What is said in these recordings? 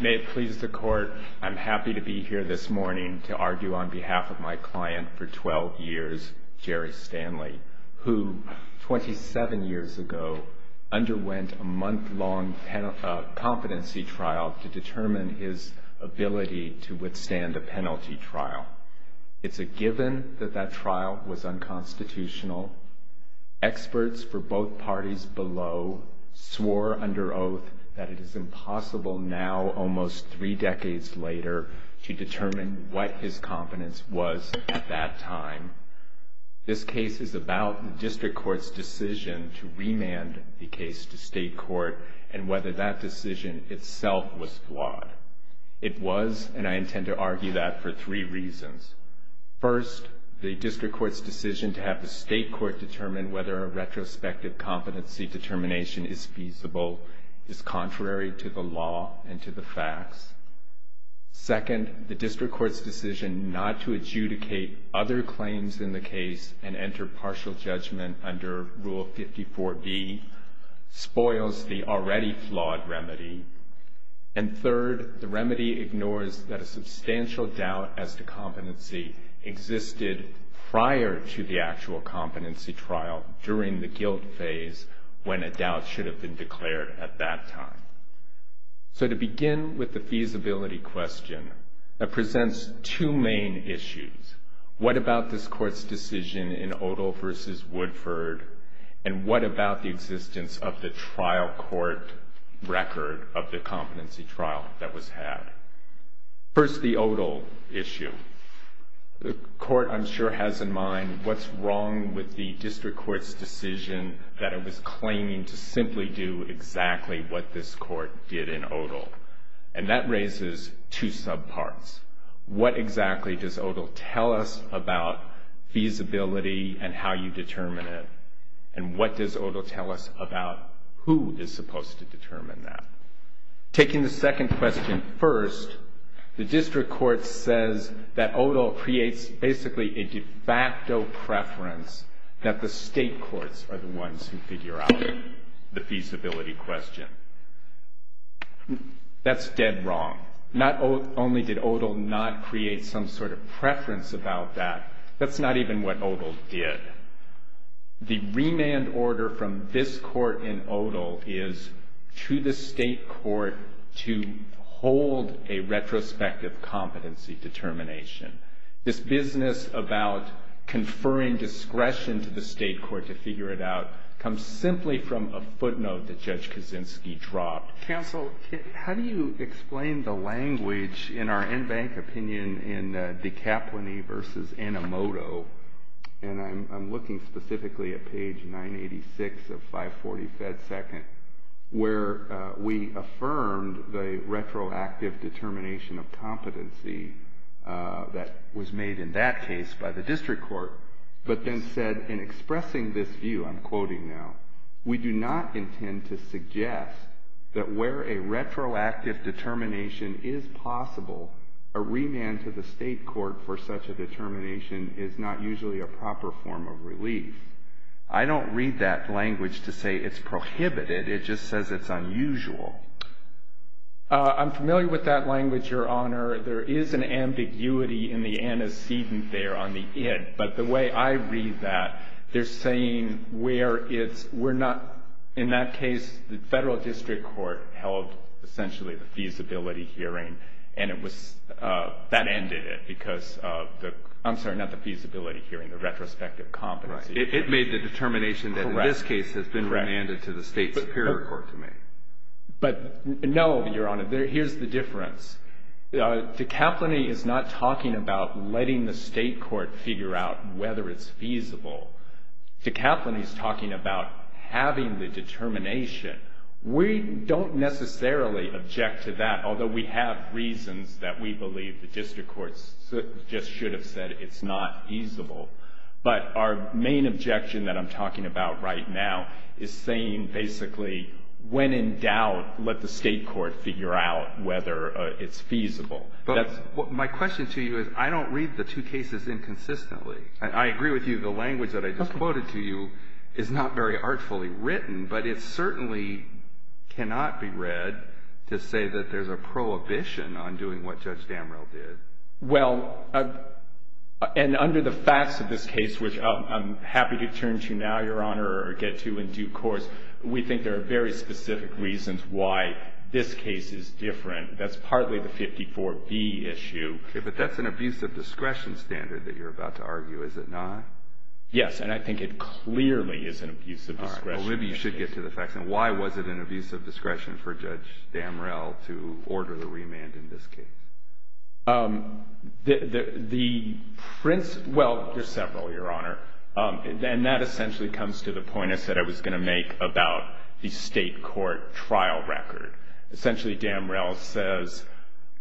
May it please the Court, I'm happy to be here this morning to argue on behalf of my client for 12 years, Jerry Stanley, who, 27 years ago, underwent a month-long competency trial to determine his ability to withstand the penalty trial. It's a given that that trial was unconstitutional. Experts for both parties below swore under oath that it is impossible now, almost three decades later, to determine what his competence was at that time. This case is about the district court's decision to remand the case to state court and whether that decision itself was flawed. It was, and I intend to argue that for three reasons. First, the district court's decision to have the state court determine whether a retrospective competency determination is feasible is contrary to the law and to the facts. Second, the district court's decision not to adjudicate other claims in the case and enter partial judgment under Rule 54B spoils the already flawed remedy. And third, the remedy ignores that a substantial doubt as to competency existed prior to the actual competency trial during the guilt phase when a doubt should have been declared at that time. So, to begin with the feasibility question, that presents two main issues. What about this court's decision in Odell v. Woodford, and what about the existence of the trial court record of the competency trial that was had? First, the Odell issue. The court, I'm sure, has in mind what's wrong with the district court's decision that it was claiming to simply do exactly what this court did in Odell. And that raises two subparts. What exactly does Odell tell us about feasibility and how you determine it? And what does Odell tell us about who is supposed to determine that? Taking the second question first, the district court says that Odell creates basically a de facto preference that the state courts are the ones who figure out the feasibility question. That's dead wrong. Not only did Odell not create some sort of preference about that, that's not even what Odell did. The remand order from this court in Odell is to the state court to hold a retrospective competency determination. This business about conferring discretion to the state court to figure it out comes simply from a footnote that Judge Kaczynski dropped. Counsel, how do you explain the language in our in-bank opinion in the DiCaplini v. Animoto? And I'm looking specifically at page 986 of 540 Fed Second, where we affirmed the retroactive determination of competency that was made in that case by the district court, but then said, in expressing this view, I'm quoting now, we do not intend to suggest that where a retroactive determination is possible, a remand to the state court for such a determination is not usually a proper form of relief. I don't read that language to say it's prohibited. It just says it's unusual. I'm familiar with that language, Your Honor. There is an ambiguity in the antecedent there on the end, but the way I read that, they're saying we're not, in that case, the federal district court held essentially the feasibility hearing, and that ended it because of the, I'm sorry, not the feasibility hearing, the retrospective competency. It made the determination that in this case has been remanded to the state superior court to make. But no, Your Honor, here's the difference. De Capline is not talking about letting the state court figure out whether it's feasible. De Capline is talking about having the determination. We don't necessarily object to that, although we have reasons that we believe the district court just should have said it's not feasible. But our main objection that I'm talking about right now is saying basically when in doubt, let the state court figure out whether it's feasible. My question to you is I don't read the two cases inconsistently. I agree with you. The language that I just quoted to you is not very artfully written, but it certainly cannot be read to say that there's a prohibition on doing what Judge Damrell did. Well, and under the facts of this case, which I'm happy to turn to now, Your Honor, or get to in due course, we think there are very specific reasons why this case is different. That's partly the 54B issue. But that's an abuse of discretion standard that you're about to argue, is it not? Yes, and I think it clearly is an abuse of discretion. Maybe you should get to the facts. Why was it an abuse of discretion for Judge Damrell to order the remand in this case? Well, there's several, Your Honor, and that essentially comes to the point I said I was going to make about the state court trial record. Essentially, Damrell says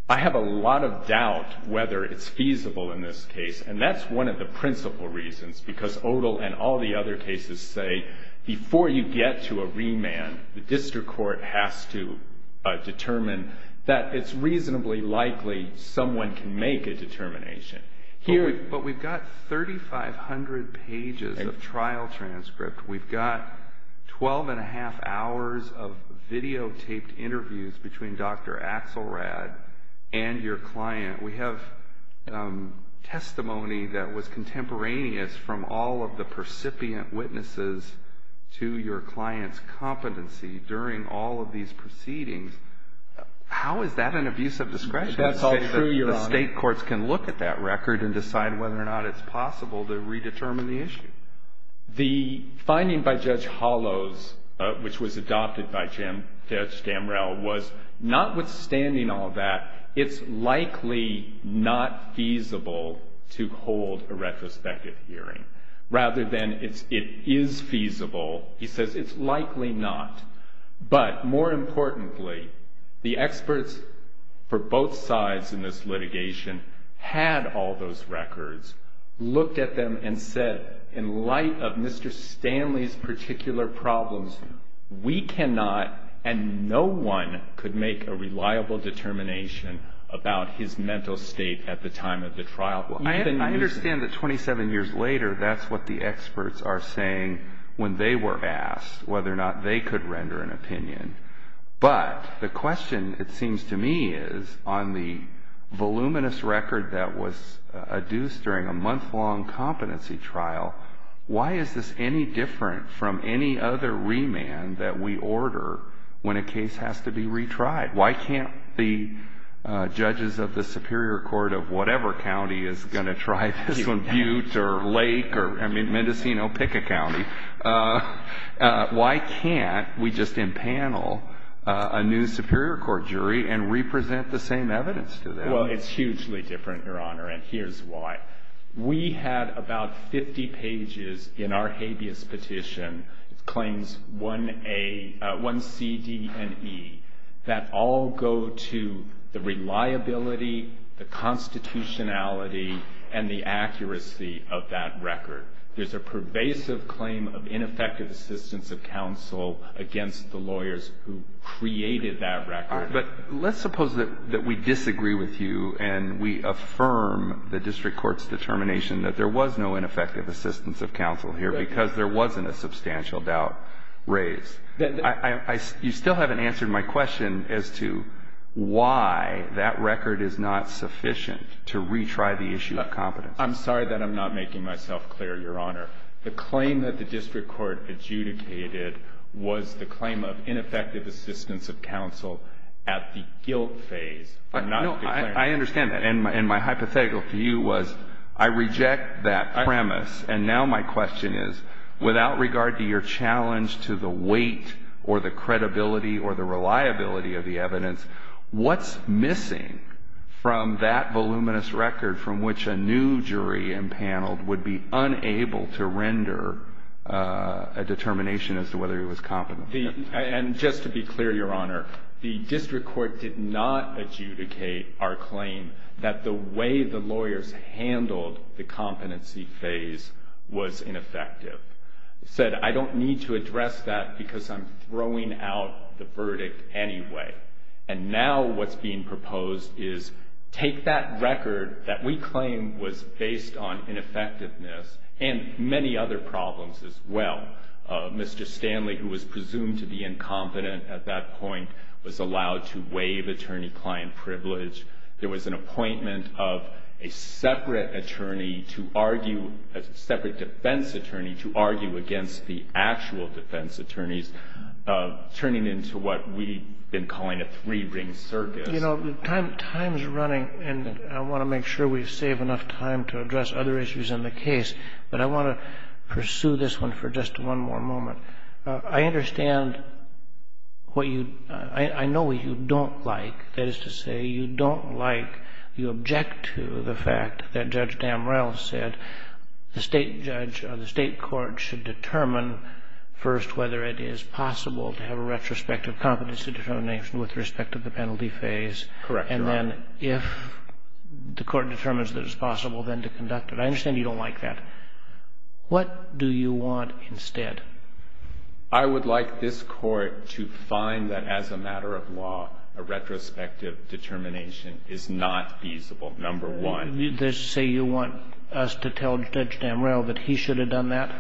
I have a lot of doubt whether it's feasible in this case, and that's one of the principal reasons because Odall and all the other cases say before you get to a remand, the district court has to determine that it's reasonably likely someone can make a determination. But we've got 3,500 pages of trial transcript. We've got 12 1⁄2 hours of videotaped interviews between Dr. Axelrad and your client. We have testimony that was contemporaneous from all of the percipient witnesses to your client's competency during all of these proceedings. How is that an abuse of discretion? That's all true, Your Honor. The state courts can look at that record and decide whether or not it's possible to redetermine the issue. The finding by Judge Hollows, which was adopted by Judge Damrell, was notwithstanding all that, it's likely not feasible to hold a retrospective hearing. Rather than it is feasible, he says it's likely not. But more importantly, the experts for both sides in this litigation had all those records, looked at them and said, in light of Mr. Stanley's particular problems, we cannot and no one could make a reliable determination about his mental state at the time of the trial. I understand that 27 years later, that's what the experts are saying when they were asked whether or not they could render an opinion. But the question, it seems to me, is on the voluminous record that was adduced during a month-long competency trial, why is this any different from any other remand that we order when a case has to be retried? Why can't the judges of the Superior Court of whatever county is going to try to compute, or Lake, or I mean Mendocino-Pickett County, why can't we just impanel a new Superior Court jury and represent the same evidence to them? Well, it's hugely different, Your Honor, and here's why. We have about 50 pages in our habeas petition, claims 1A, 1C, D, and E, that all go to the reliability, the constitutionality, and the accuracy of that record. There's a pervasive claim of ineffective assistance of counsel against the lawyers who created that record. But let's suppose that we disagree with you and we affirm the district court's determination that there was no ineffective assistance of counsel here because there wasn't a substantial doubt raised. You still haven't answered my question as to why that record is not sufficient to retry the issue of competency. I'm sorry that I'm not making myself clear, Your Honor. The claim that the district court adjudicated was the claim of ineffective assistance of counsel at the guilt phase. I understand that, and my hypothetical to you was I reject that premise, and now my question is without regard to your challenge to the weight or the credibility or the reliability of the evidence, what's missing from that voluminous record from which a new jury and panel would be unable to render a determination as to whether it was competent? Just to be clear, Your Honor, the district court did not adjudicate our claim that the way the lawyers handled the competency phase was ineffective. It said I don't need to address that because I'm throwing out the verdict anyway. And now what's being proposed is take that record that we claim was based on ineffectiveness and many other problems as well. Mr. Stanley, who was presumed to be incompetent at that point, was allowed to waive attorney-client privilege. There was an appointment of a separate defense attorney to argue against the actual defense attorney, turning into what we've been calling a three-ring circuit. You know, time is running, and I want to make sure we save enough time to address other issues in the case, but I want to pursue this one for just one more moment. I understand what you, I know what you don't like. That is to say, you don't like, you object to the fact that Judge Damrell said the state judge, the state court should determine first whether it is possible to have a retrospective competency determination with respect to the penalty phase. Correct, Your Honor. And then if the court determines that it's possible, then to conduct it. I understand you don't like that. What do you want instead? I would like this court to find that as a matter of law, a retrospective determination is not feasible, number one. You just say you want us to tell Judge Damrell that he should have done that?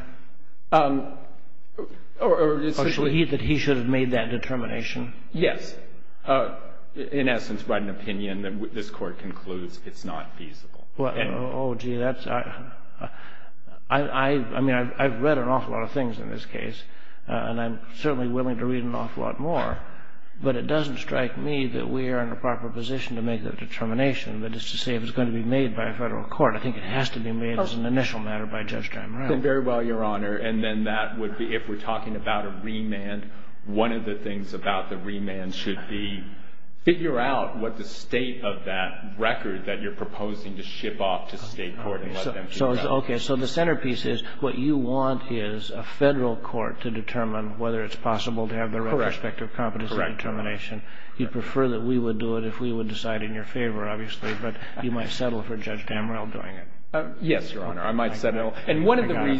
Or that he should have made that determination? Yes. In essence, by an opinion, this court concludes it's not feasible. Oh, gee, that's, I mean, I've read an awful lot of things in this case, and I'm certainly willing to read an awful lot more, but it doesn't strike me that we are in a proper position to make that determination, but it's to say it's going to be made by a federal court. I think it has to be made as an initial matter by Judge Damrell. Very well, Your Honor, and then that would be, if we're talking about a remand, one of the things about the remand should be figure out what the state of that record that you're proposing to ship off to state court and let them decide. Okay, so the centerpiece is what you want is a federal court to determine whether it's possible to have a retrospective competence determination. You'd prefer that we would do it if we would decide in your favor, obviously, but you might settle for Judge Damrell doing it. Yes, Your Honor, I might settle. But I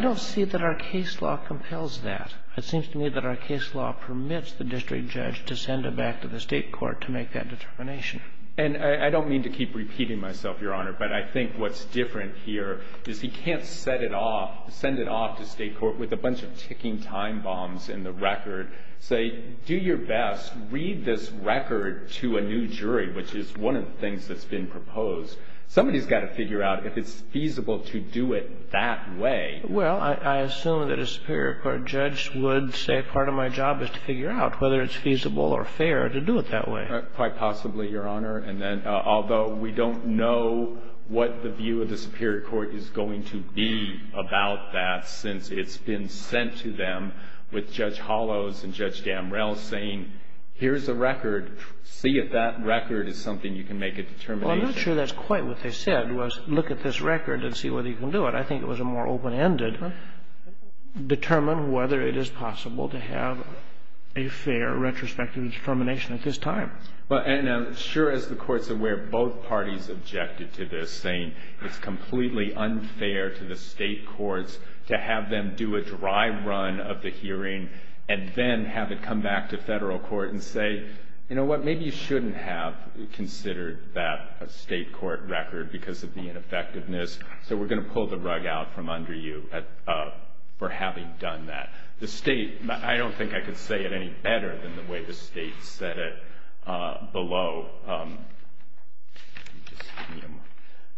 don't see that our case law compels that. It seems to me that our case law permits the district judge to send it back to the state court to make that determination. And I don't mean to keep repeating myself, Your Honor, but I think what's different here is he can't send it off to state court with a bunch of ticking time bombs in the record, say, do your best, read this record to a new jury, which is one of the things that's been proposed. Somebody's got to figure out if it's feasible to do it that way. Well, I assume that a Superior Court judge would say part of my job is to figure out whether it's feasible or fair to do it that way. Quite possibly, Your Honor, and then although we don't know what the view of the Superior Court is going to be about that since it's been sent to them with Judge Hollows and Judge Damrell saying, here's the record, see if that record is something you can make a determination. Well, I'm not sure that's quite what they said, was look at this record and see whether you can do it. I think it was a more open-ended, determine whether it is possible to have a fair retrospective determination at this time. And I'm sure, as the Court's aware, both parties objected to this, saying it's completely unfair to the state courts to have them do a dry run of the hearing and then have it come back to federal court and say, you know what, maybe you shouldn't have considered that state court record because of the ineffectiveness, so we're going to pull the rug out from under you for having done that. The state, I don't think I could say it any better than the way the state said it below.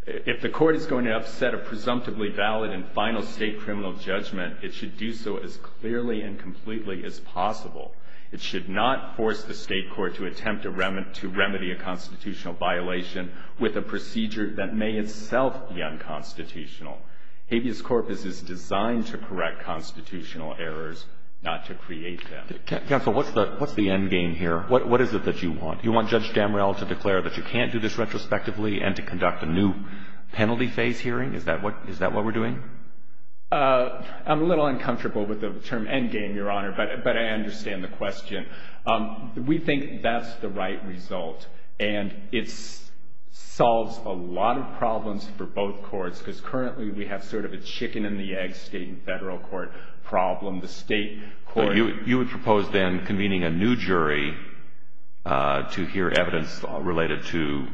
If the Court is going to set a presumptively valid and final state criminal judgment, it should do so as clearly and completely as possible. It should not force the state court to attempt to remedy a constitutional violation with a procedure that may itself be unconstitutional. Habeas corpus is designed to correct constitutional errors, not to create them. Counsel, what's the end game here? What is it that you want? You want Judge Damrell to declare that you can't do this retrospectively and to conduct a new penalty phase hearing? Is that what we're doing? I'm a little uncomfortable with the term end game, Your Honor, but I understand the question. We think that's the right result, and it solves a lot of problems for both courts because currently we have sort of a chicken-and-the-egg state and federal court problem. The state court— You would propose then convening a new jury to hear evidence related to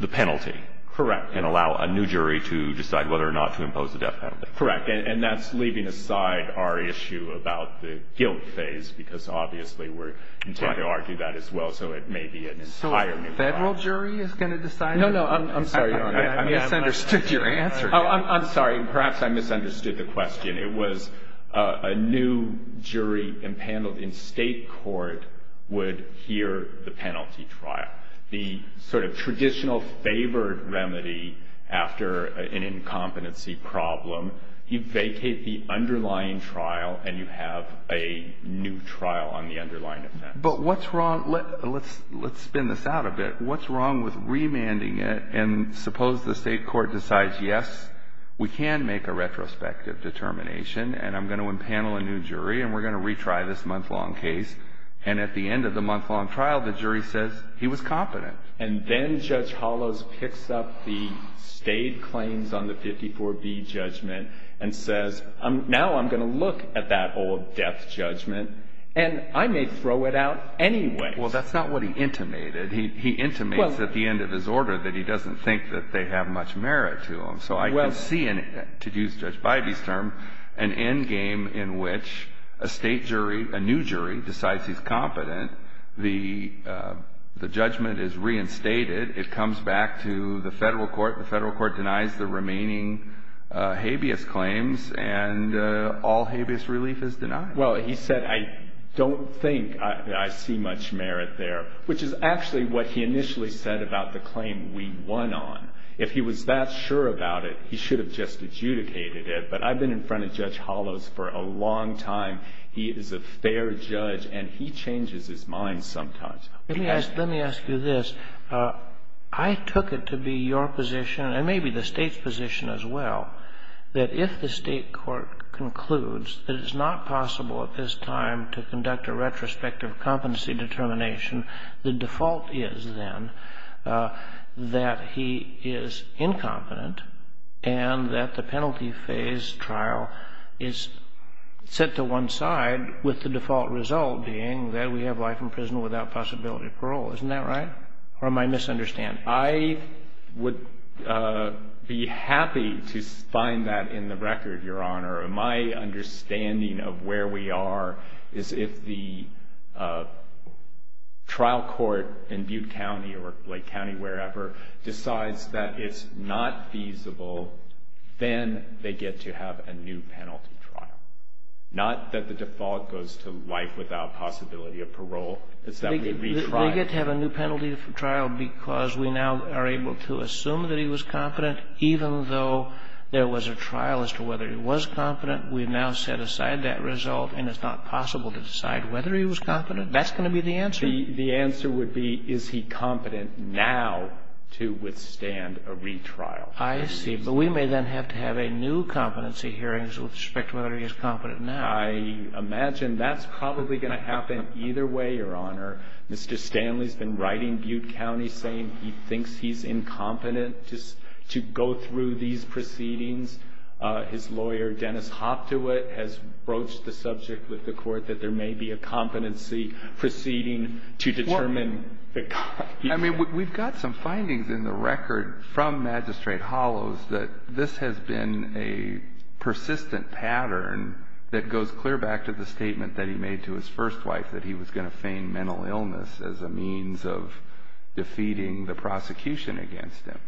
the penalty. Correct. The state court can allow a new jury to decide whether or not to impose the death penalty. Correct, and that's leaving aside our issue about the guilt phase because obviously we're trying to argue that as well, so it may be an entire new trial. So a federal jury is going to decide? No, no, I'm sorry. I misunderstood your answer. I'm sorry. Perhaps I misunderstood the question. It was a new jury in state court would hear the penalty trial. The sort of traditional favored remedy after an incompetency problem. You vacate the underlying trial, and you have a new trial on the underlying offense. But what's wrong—let's spin this out a bit. What's wrong with remanding it, and suppose the state court decides, yes, we can make a retrospective determination, and I'm going to impanel a new jury, and we're going to retry this month-long case, and at the end of the month-long trial, the jury says he was competent. And then Judge Hollows picks up the state claims on the 54B judgment and says, now I'm going to look at that old death judgment, and I may throw it out anyway. Well, that's not what he intimated. He intimates at the end of his order that he doesn't think that they have much merit to him, so I can't see anything, to use Judge Bybee's term, an endgame in which a state jury, a new jury, decides he's competent. The judgment is reinstated. It comes back to the federal court. The federal court denies the remaining habeas claims, and all habeas relief is denied. Well, he said, I don't think I see much merit there, which is actually what he initially said about the claim we won on. If he was that sure about it, he should have just adjudicated it, but I've been in front of Judge Hollows for a long time. He is a fair judge, and he changes his mind sometimes. Let me ask you this. I took it to be your position, and maybe the state's position as well, that if the state court concludes that it's not possible at this time to conduct a retrospective competency determination, the default is then that he is incompetent and that the penalty phase trial is set to one side, with the default result being that we have life in prison without possibility of parole. Isn't that right? Or am I misunderstanding? I would be happy to find that in the record, Your Honor. My understanding of where we are is if the trial court in Butte County or Lake County, wherever, decides that it's not feasible, then they get to have a new penalty trial. Not that the default goes to life without possibility of parole. They get to have a new penalty trial because we now are able to assume that he was competent, even though there was a trial as to whether he was competent. We now set aside that result, and it's not possible to decide whether he was competent. That's going to be the answer. The answer would be, is he competent now to withstand a retrial. I see. But we may then have to have a new competency hearing with respect to whether he is competent now. I imagine that's probably going to happen either way, Your Honor. Mr. Stanley has been writing Butte County, saying he thinks he's incompetent to go through these proceedings. His lawyer, Dennis Hoftowit, has broached the subject with the court that there may be a competency proceeding to determine. I mean, we've got some findings in the record from Magistrate Hollows that this has been a persistent pattern that goes clear back to the statement that he made to his first wife that he was going to feign mental illness as a means of defeating the prosecution against him.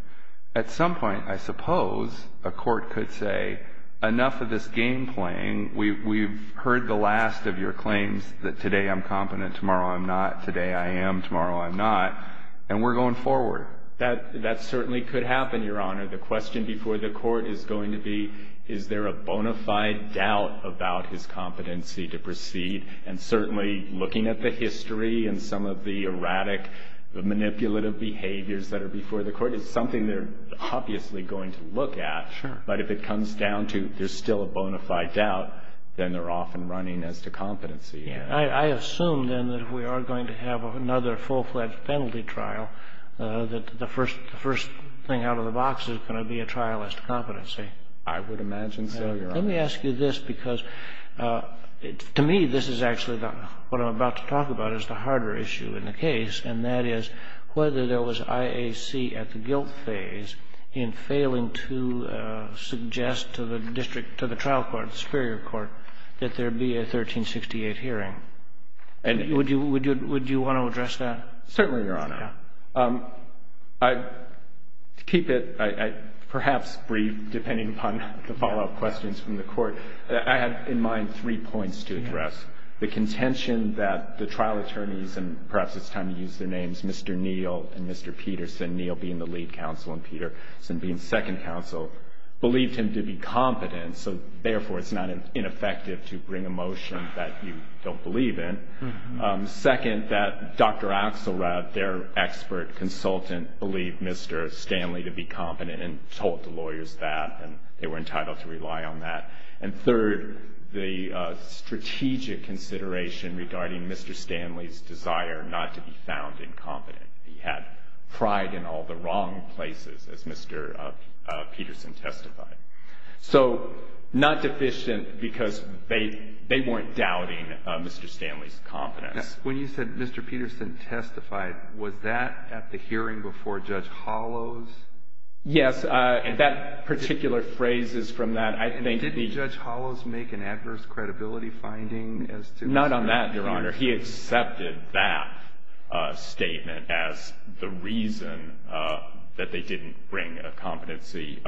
At some point, I suppose, a court could say, enough of this game playing. We've heard the last of your claims that today I'm competent, tomorrow I'm not, today I am, tomorrow I'm not, and we're going forward. That certainly could happen, Your Honor. And the question before the court is going to be, is there a bona fide doubt about his competency to proceed? And certainly, looking at the history and some of the erratic manipulative behaviors that are before the court, it's something they're obviously going to look at. Sure. But if it comes down to there's still a bona fide doubt, then they're off and running as to competency. I assume, then, that if we are going to have another full-fledged penalty trial, that the first thing out of the box is going to be a trial as to competency. I would imagine, Your Honor. Let me ask you this, because to me, this is actually what I'm about to talk about is the harder issue in the case, and that is whether there was IAC at the guilt phase in failing to suggest to the district, to the trial court, Superior Court, that there be a 1368 hearing. Would you want to address that? Certainly, Your Honor. To keep it perhaps brief, depending upon the follow-up questions from the court, I had in mind three points to address. The contention that the trial attorneys, and perhaps it's time to use their names, Mr. Neal and Mr. Peterson, Neal being the lead counsel and Peterson being second counsel, believed him to be competent, so therefore it's not ineffective to bring a motion that you don't believe in. Second, that Dr. Axelrod, their expert consultant, believed Mr. Stanley to be competent and told the lawyers that, and they were entitled to rely on that. And third, the strategic consideration regarding Mr. Stanley's desire not to be found incompetent. He had pride in all the wrong places, as Mr. Peterson testified. So, not deficient because they weren't doubting Mr. Stanley's competence. When you said Mr. Peterson testified, was that at the hearing before Judge Hollows? Yes, that particular phrase is from that. Didn't Judge Hollows make an adverse credibility finding? Not on that, Your Honor. He accepted that statement as the reason that they didn't bring a competency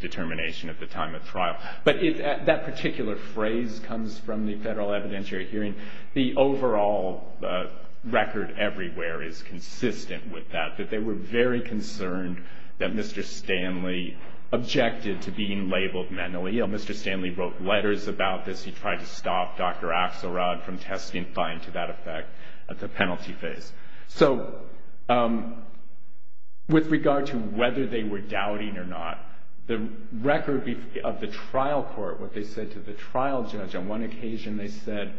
determination at the time of trial. But that particular phrase comes from the federal evidentiary hearing. The overall record everywhere is consistent with that, that they were very concerned that Mr. Stanley objected to being labeled mentally. Mr. Stanley wrote letters about this. He tried to stop Dr. Axelrod from testing fine to that effect at the penalty phase. So, with regard to whether they were doubting or not, the record of the trial court, what they said to the trial judge on one occasion, they said,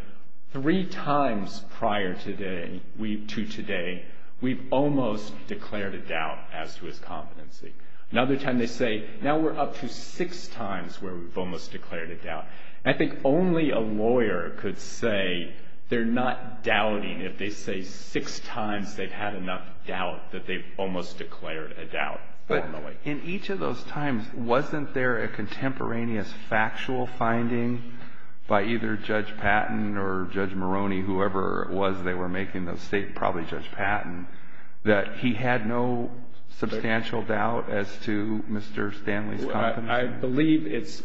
three times prior to today, we've almost declared a doubt as to his competency. Another time they say, now we're up to six times where we've almost declared a doubt. I think only a lawyer could say they're not doubting if they say six times they've had enough doubt that they've almost declared a doubt formally. In each of those times, wasn't there a contemporaneous factual finding by either Judge Patton or Judge Maroney, whoever it was they were making those statements, probably Judge Patton, that he had no substantial doubt as to Mr. Stanley's competency? I believe it's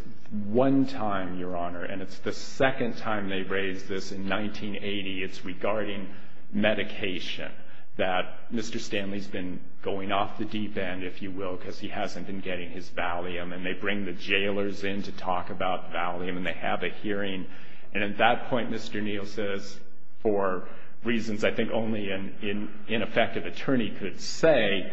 one time, Your Honor, and it's the second time they raised this in 1980. It's regarding medication, that Mr. Stanley's been going off the deep end, if you will, because he hasn't been getting his Valium, and they bring the jailers in to talk about Valium, and they have a hearing. And at that point, Mr. Neal says, for reasons I think only an ineffective attorney could say,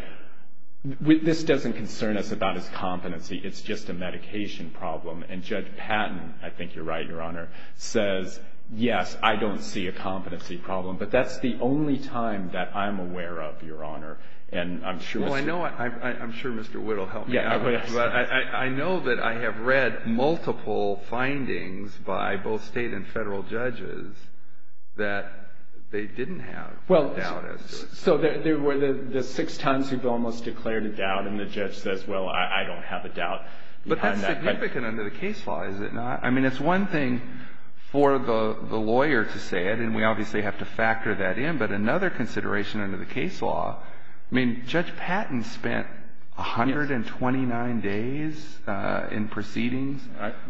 this doesn't concern us about his competency. It's just a medication problem. And Judge Patton, I think you're right, Your Honor, says, yes, I don't see a competency problem, but that's the only time that I'm aware of, Your Honor. Well, I'm sure Mr. Wood will help me out on this, but I know that I have read multiple findings by both state and federal judges that they didn't have doubt as to it. So there were the six times he's almost declared a doubt, and the judge says, well, I don't have a doubt. But that's significant under the case law, is it not? I mean, it's one thing for the lawyer to say it, and we obviously have to factor that in, but another consideration under the case law, I mean, Judge Patton spent 129 days in proceedings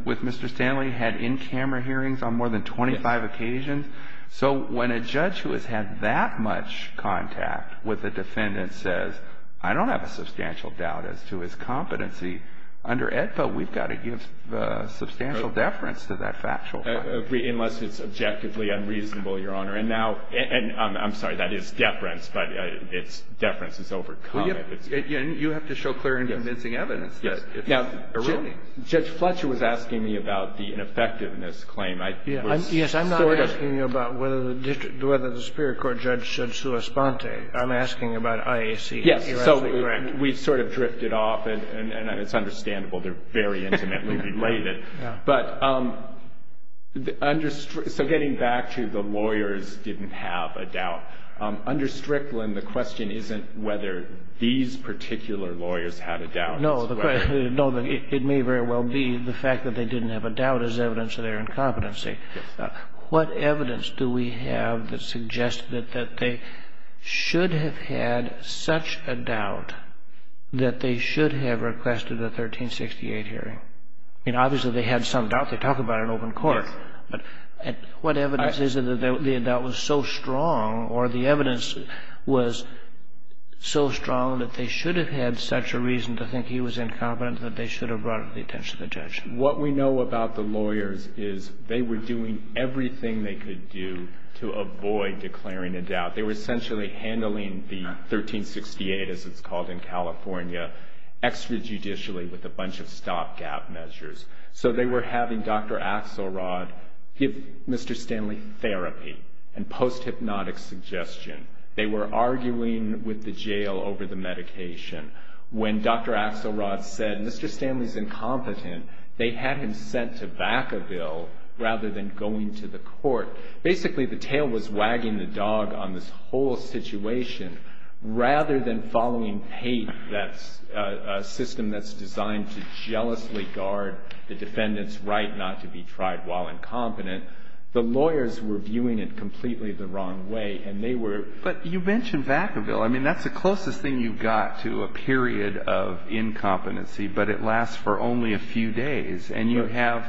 with Mr. Stanley, had in-camera hearings on more than 25 occasions. So when a judge who has had that much contact with a defendant says, I don't have a substantial doubt as to his competency, under EDSA we've got to give substantial deference to that factual fact. I agree, unless it's objectively unreasonable, Your Honor. And now, I'm sorry, that is deference, but it's deference that's overcome. You have to show clear and convincing evidence that it's not erroneous. Judge Fletcher was asking me about the ineffectiveness claim. Yes, I'm not asking you about whether the Superior Court judge should correspond to it. I'm asking about IAC. Yes, so we sort of drifted off, and it's understandable. They're very intimately related. So getting back to the lawyers didn't have a doubt, under Strickland, the question isn't whether these particular lawyers had a doubt. No, it may very well be the fact that they didn't have a doubt is evidence of their incompetency. What evidence do we have that suggests that they should have had such a doubt that they should have requested a 1368 hearing? I mean, obviously, they had some doubt. They're talking about an open court. What evidence is it that the doubt was so strong or the evidence was so strong that they should have had such a reason to think he was incompetent that they should have brought it to the attention of the judge? What we know about the lawyers is they were doing everything they could do to avoid declaring a doubt. They were essentially handling the 1368, as it's called in California, extrajudicially with a bunch of stopgap measures. So they were having Dr. Axelrod give Mr. Stanley therapy and post-hypnotic suggestion. They were arguing with the jail over the medication. When Dr. Axelrod said, Mr. Stanley's incompetent, they had him sent to Vacaville rather than going to the court. Basically, the tail was wagging the dog on this whole situation. Rather than following PAPE, a system that's designed to jealously guard the defendant's right not to be tried while incompetent, the lawyers were viewing it completely the wrong way. And they were... But you mentioned Vacaville. I mean, that's the closest thing you've got to a period of incompetency, but it lasts for only a few days. And you have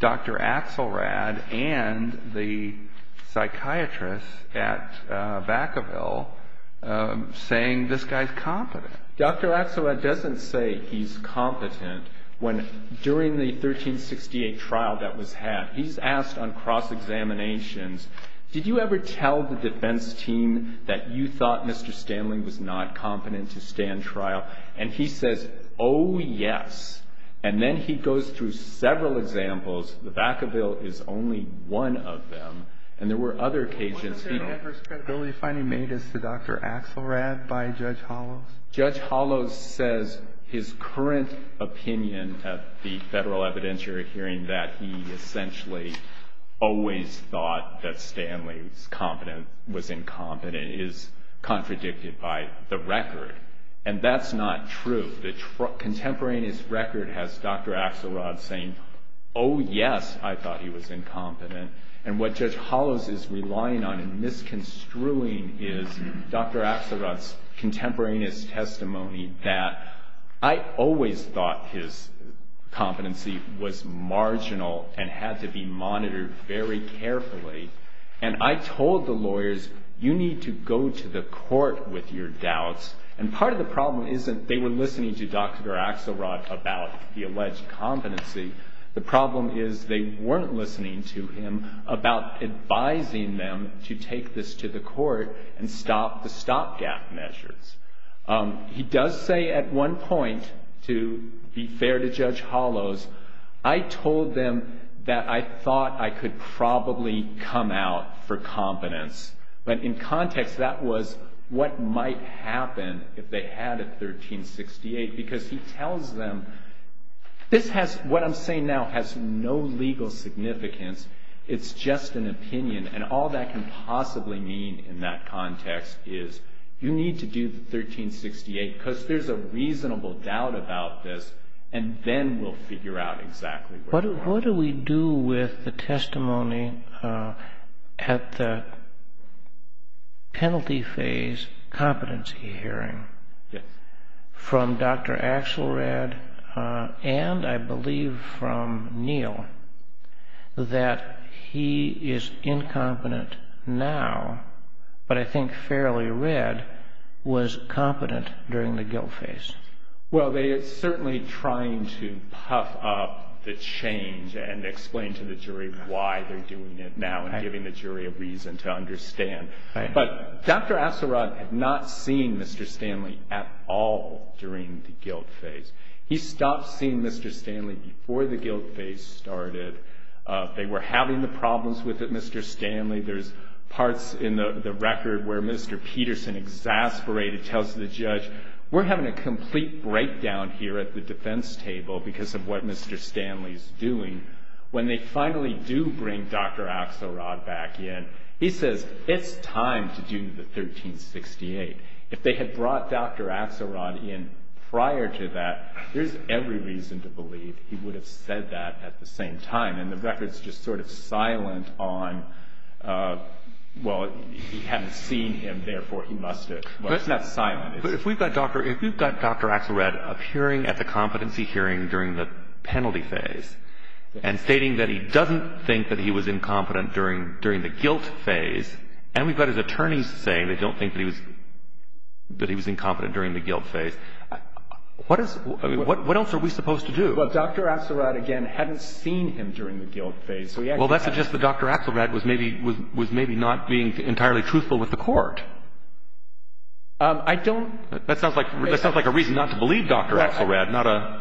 Dr. Axelrod and the psychiatrist at Vacaville saying this guy's competent. Dr. Axelrod doesn't say he's competent during the 1368 trial that was had. He's asked on cross-examinations, did you ever tell the defense team that you thought Mr. Stanley was not competent to stand trial? And he says, oh, yes. And then he goes through several examples. The Vacaville is only one of them. And there were other cases... Was there ever a credibility finding made as to Dr. Axelrod by Judge Hollows? Judge Hollows says his current opinion at the federal evidentiary hearing that he essentially always thought that Stanley was incompetent is contradicted by the record. And that's not true. The contemporaneous record has Dr. Axelrod saying, oh, yes, I thought he was incompetent. And what Judge Hollows is relying on and misconstruing is Dr. Axelrod's contemporaneous testimony that I always thought his competency was marginal and had to be monitored very carefully. And I told the lawyers, you need to go to the court with your doubts. And part of the problem isn't they were listening to Dr. Axelrod about the alleged competency. The problem is they weren't listening to him about advising them to take this to the court and stop the stopgap measures. He does say at one point, to be fair to Judge Hollows, I told them that I thought I could probably come out for competence. But in context, that was what might happen if they had a 1368 because he tells them this has, what I'm saying now, has no legal significance. It's just an opinion. And all that can possibly mean in that context is you need to do the 1368 because there's a reasonable doubt about this. And then we'll figure out exactly what. What do we do with the testimony at the penalty phase competency hearing from Dr. Axelrod and I believe from Neal that he is incompetent now, but I think fairly red, was competent during the guilt phase? Well, they are certainly trying to puff up the change and explain to the jury why they're doing it now and giving the jury a reason to understand. But Dr. Axelrod had not seen Mr. Stanley at all during the guilt phase. He stopped seeing Mr. Stanley before the guilt phase started. They were having the problems with it, Mr. Stanley. There's parts in the record where Mr. Peterson exasperated, tells the judge we're having a complete breakdown here at the defense table because of what Mr. Stanley is doing. When they finally do bring Dr. Axelrod back in, he says it's time to do the 1368. If they had brought Dr. Axelrod in prior to that, there's every reason to believe he would have said that at the same time. The record is just sort of silent on, well, he hadn't seen him, therefore he must have. It's not silent. If we've got Dr. Axelrod appearing at the competency hearing during the penalty phase and stating that he doesn't think that he was incompetent during the guilt phase, and we've got his attorneys saying they don't think that he was incompetent during the guilt phase, what else are we supposed to do? Well, Dr. Axelrod, again, hadn't seen him during the guilt phase. Well, that suggests that Dr. Axelrod was maybe not being entirely truthful with the court. I don't… That sounds like a reason not to believe Dr. Axelrod.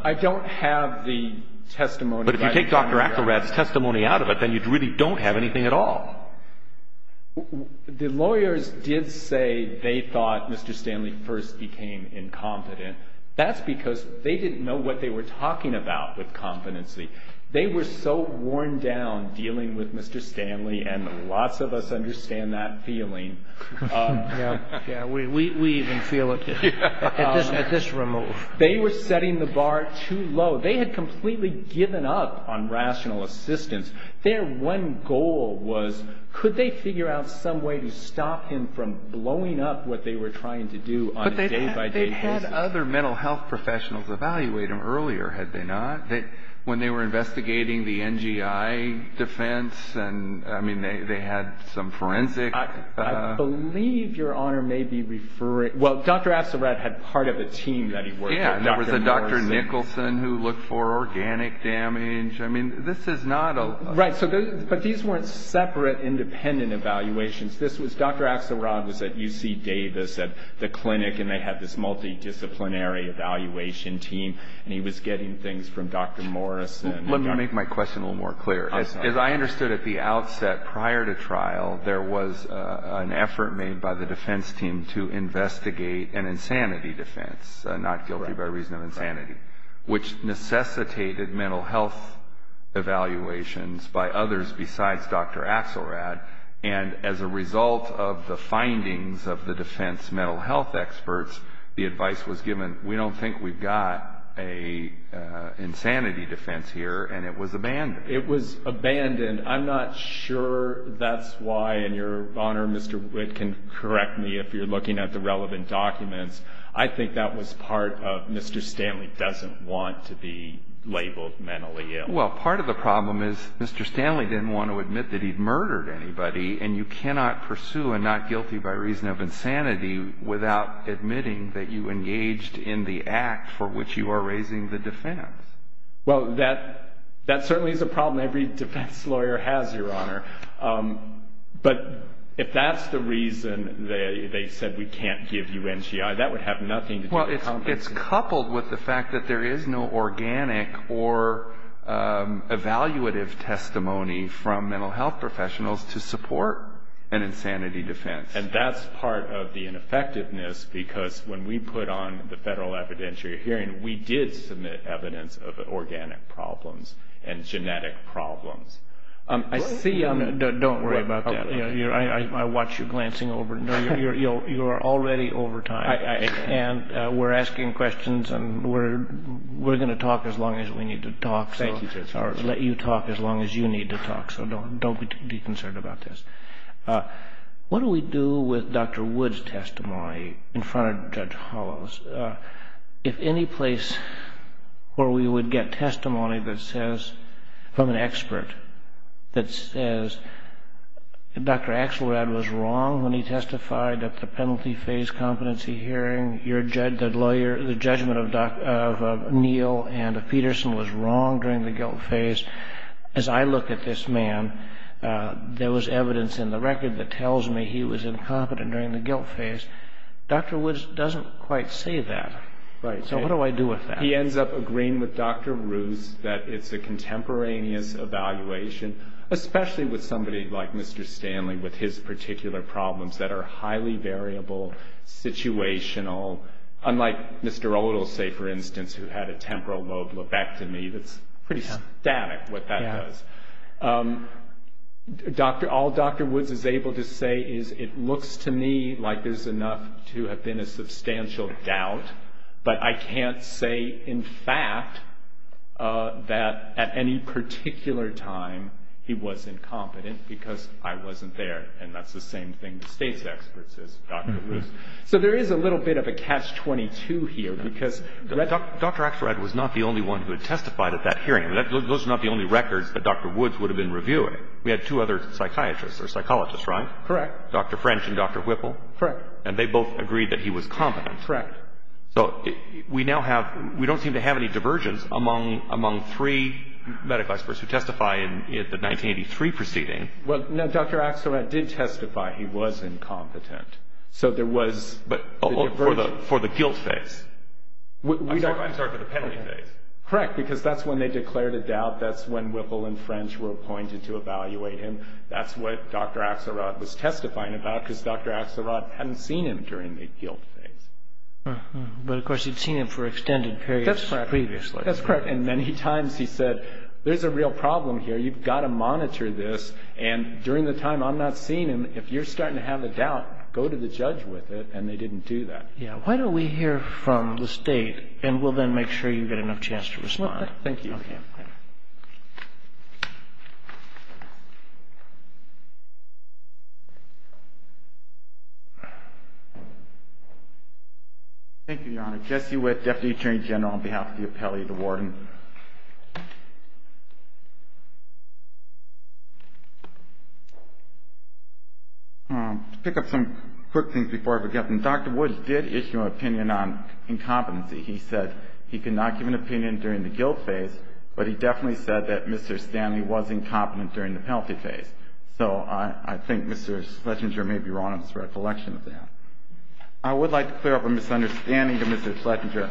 I don't have the testimony. But if you take Dr. Axelrod's testimony out of it, then you really don't have anything at all. The lawyers did say they thought Mr. Stanley first became incompetent. That's because they didn't know what they were talking about with competency. They were so worn down dealing with Mr. Stanley, and lots of us understand that feeling. Yeah, we even feel it. It's just removed. They were setting the bar too low. They had completely given up on rational assistance. Their one goal was could they figure out some way to stop him from blowing up what they were trying to do on a day-by-day basis? They had other mental health professionals evaluate him earlier, had they not? When they were investigating the NGI defense, I mean, they had some forensics. I believe Your Honor may be referring – well, Dr. Axelrod had part of a team that he worked with. Yeah, there was a Dr. Nicholson who looked for organic damage. I mean, this is not a… Right, but these weren't separate, independent evaluations. This was – Dr. Axelrod was at UC Davis at the clinic, and they had this multidisciplinary evaluation team, and he was getting things from Dr. Morris. Let me make my question a little more clear. As I understood at the outset prior to trial, there was an effort made by the defense team to investigate an insanity defense, not guilty by reason of insanity, which necessitated mental health evaluations by others besides Dr. Axelrod. And as a result of the findings of the defense mental health experts, the advice was given, we don't think we've got an insanity defense here, and it was abandoned. It was abandoned. I'm not sure that's why, and Your Honor, Mr. Witt can correct me if you're looking at the relevant documents. I think that was part of Mr. Stanley doesn't want to be labeled mentally ill. Well, part of the problem is Mr. Stanley didn't want to admit that he'd murdered anybody, and you cannot pursue a not guilty by reason of insanity without admitting that you engaged in the act for which you are raising the defense. Well, that certainly is a problem every defense lawyer has, Your Honor. But if that's the reason they said we can't give you NCI, that would have nothing to do with counseling. It's coupled with the fact that there is no organic or evaluative testimony from mental health professionals to support an insanity defense. And that's part of the ineffectiveness because when we put on the federal evidentiary hearing, we did submit evidence of organic problems and genetic problems. Don't worry about that. I watched you glancing over. You are already over time. We're asking questions and we're going to talk as long as we need to talk. Thank you, Judge. I'll let you talk as long as you need to talk, so don't be concerned about this. What do we do with Dr. Wood's testimony in front of Judge Hollows? If any place where we would get testimony that says, from an expert, that says, Dr. Axelrod was wrong when he testified at the penalty phase competency hearing, the judgment of Neal and Peterson was wrong during the guilt phase. As I look at this man, there was evidence in the record that tells me he was incompetent during the guilt phase. Dr. Woods doesn't quite say that. So what do I do with that? He ends up agreeing with Dr. Ruth that it's a contemporaneous evaluation, especially with somebody like Mr. Stanley with his particular problems that are highly variable, situational, unlike Mr. Odell, say, for instance, who had a temporal lobectomy. That's pretty static, what that does. All Dr. Woods is able to say is it looks to me like there's enough to have been a substantial doubt, but I can't say, in fact, that at any particular time he was incompetent because I wasn't there, and that's the same thing the state's expert says, Dr. Woods. So there is a little bit of a catch-22 here. Dr. Axelrod was not the only one who had testified at that hearing. Those are not the only records that Dr. Woods would have been reviewing. We had two other psychiatrists or psychologists, right? Correct. Dr. French and Dr. Whipple. Correct. And they both agreed that he was competent. Correct. So we don't seem to have any divergence among three medical experts who testify in the 1983 proceeding. Well, no, Dr. Axelrod did testify he was incompetent. But for the guilt phase. I'm sorry, for the penalty phase. Correct, because that's when they declared a doubt. That's when Whipple and French were appointed to evaluate him. That's what Dr. Axelrod was testifying about because Dr. Axelrod hadn't seen him during the guilt phase. But, of course, he'd seen him for extended periods previously. That's correct. And many times he said, there's a real problem here. You've got to monitor this, and during the time I'm not seeing him, if you're starting to have a doubt, go to the judge with it, and they didn't do that. Why don't we hear from the State, and we'll then make sure you get enough chance to respond. Thank you. Thank you, Your Honor. Jesse Witt, Deputy Attorney General on behalf of the Appellee's Award. Thank you. To pick up some quick things before I forget, Dr. Woods did issue an opinion on incompetency. He said he could not give an opinion during the guilt phase, but he definitely said that Mr. Stanley was incompetent during the penalty phase. So I think Mr. Schlesinger may be wrong in his recollection of that. I would like to clear up a misunderstanding to Mr. Schlesinger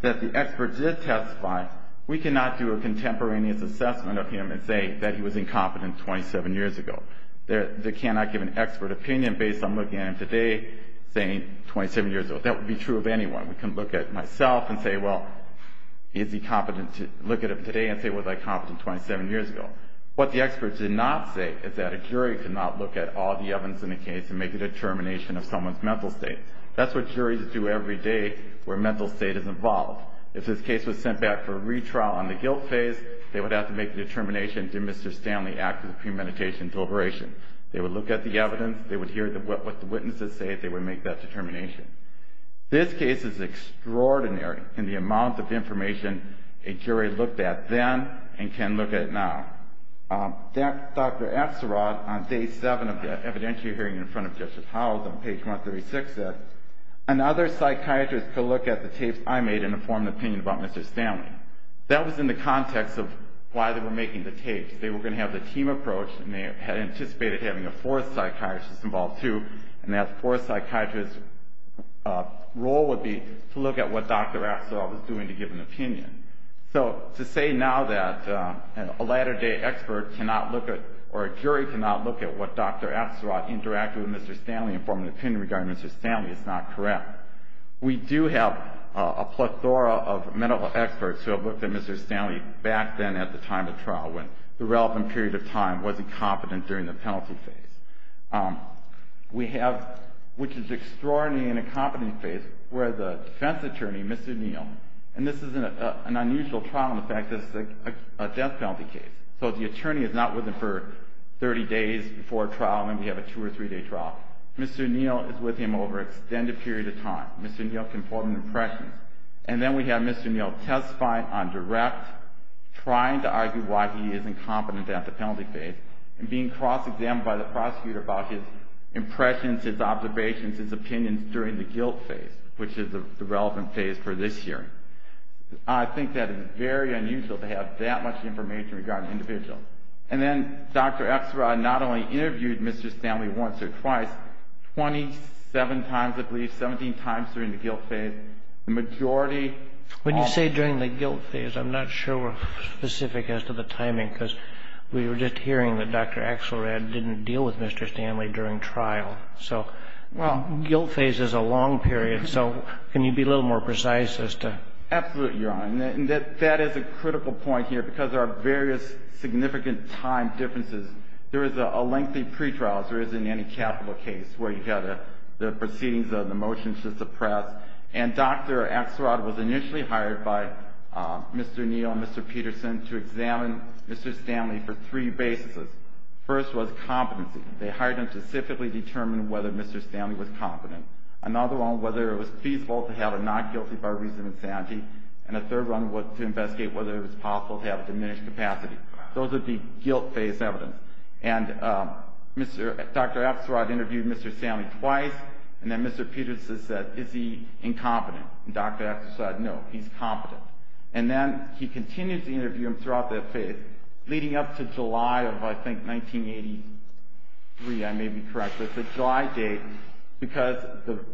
that the expert did testify. We cannot do a contemporaneous assessment of him and say that he was incompetent 27 years ago. They cannot give an expert opinion based on looking at him today, saying 27 years ago. That would be true of anyone. We can look at myself and say, well, he'd be competent to look at him today and say he was incompetent 27 years ago. What the expert did not say is that a jury did not look at all the evidence in the case to make a determination of someone's mental state. That's what juries do every day where mental state is involved. If a case was sent back for a retrial in the guilt phase, they would have to make a determination in Mr. Stanley's act of premeditation deliberation. They would look at the evidence. They would hear what the witnesses said. They would make that determination. This case is extraordinary in the amount of information a jury looked at then and can look at now. Dr. Apsarod on day seven of the evidentiary hearing in front of Justice Howells on page 136 said, another psychiatrist could look at the case I made and inform an opinion about Mr. Stanley. That was in the context of why they were making the case. They were going to have a team approach, and they had anticipated having a fourth psychiatrist involved too, and that fourth psychiatrist's role would be to look at what Dr. Apsarod was doing to give an opinion. To say now that a latter-day expert cannot look at, or a jury cannot look at what Dr. Apsarod interacted with Mr. Stanley and form an opinion regarding Mr. Stanley is not correct. We do have a plethora of medical experts who have looked at Mr. Stanley back then at the time of trial when the relevant period of time wasn't competent during the penalty phase, which is extraordinary in the incompetence phase where the defense attorney, Mr. Neal, and this is an unusual trial in the fact that it's a death penalty case. So the attorney is not with him for 30 days before trial, maybe have a two- or three-day trial. Mr. Neal is with him over an extended period of time. Mr. Neal can form an impression, and then we have Mr. Neal testifying on direct, trying to argue why he is incompetent at the penalty phase, and being cross-examined by the prosecutor about his impressions, his observations, his opinions during the guilt phase, which is the relevant phase for this hearing. I think that is very unusual to have that much information regarding individuals. And then Dr. Apsarod not only interviewed Mr. Stanley once or twice, 27 times at least, 17 times during the guilt phase. When you say during the guilt phase, I'm not sure we're specific as to the timing because we were just hearing that Dr. Apsarod didn't deal with Mr. Stanley during trial. Well, guilt phase is a long period, so can you be a little more precise as to... Absolutely, Your Honor, and that is a critical point here because there are various significant time differences. There is a lengthy pretrial, as there is in any capital case, where you have the proceedings and the motions to suppress. And Dr. Apsarod was initially hired by Mr. Neal and Mr. Peterson to examine Mr. Stanley for three bases. The first was competency. They hired him to specifically determine whether Mr. Stanley was competent. Another one, whether it was feasible to have a non-guilty bargain for insanity. And a third one was to investigate whether it was possible to have a diminished capacity. Those are the guilt phase evidence. And Dr. Apsarod interviewed Mr. Stanley twice, and then Mr. Peterson said, is he incompetent? And Dr. Apsarod said, no, he's competent. And then he continued to interview him throughout that phase, leading up to July of, I think, 1983. I may be correct. It's a July date because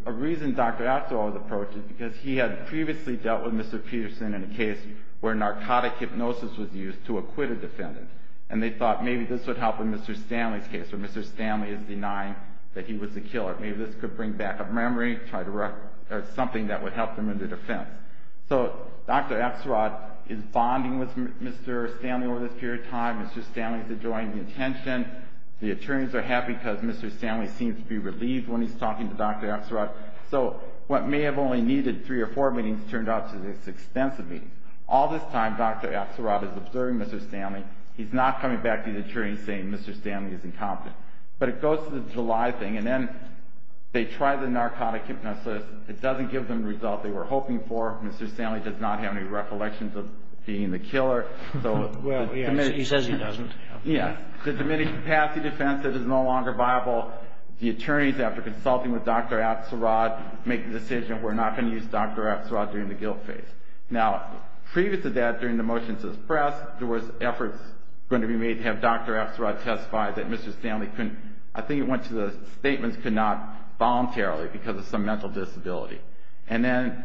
a reason Dr. Apsarod's approach is because he had previously dealt with Mr. Peterson in a case where narcotic hypnosis was used to acquit a defendant. And they thought maybe this would help in Mr. Stanley's case, where Mr. Stanley is denying that he was the killer. Maybe this could bring back a memory, try to record something that would help him in the defense. So Dr. Apsarod is bonding with Mr. Stanley over this period of time. Mr. Stanley's enjoying the attention. The attorneys are happy because Mr. Stanley seems to be relieved when he's talking to Dr. Apsarod. So what may have only needed three or four meetings turned out to be this extensive meeting. All this time, Dr. Apsarod is observing Mr. Stanley. He's not coming back to the attorney and saying Mr. Stanley is incompetent. But it goes to the July thing, and then they try the narcotic hypnosis. It doesn't give them the result they were hoping for. Mr. Stanley does not have any recollections of being the killer. Well, he says he doesn't. Yeah. The diminished capacity defense says it's no longer viable. The attorneys, after consulting with Dr. Apsarod, make the decision we're not going to use Dr. Apsarod during the guilt phase. Now, previous to that, during the motions to the press, there was effort going to be made to have Dr. Apsarod testify that Mr. Stanley couldn't. The statement could not voluntarily because of some mental disability. And then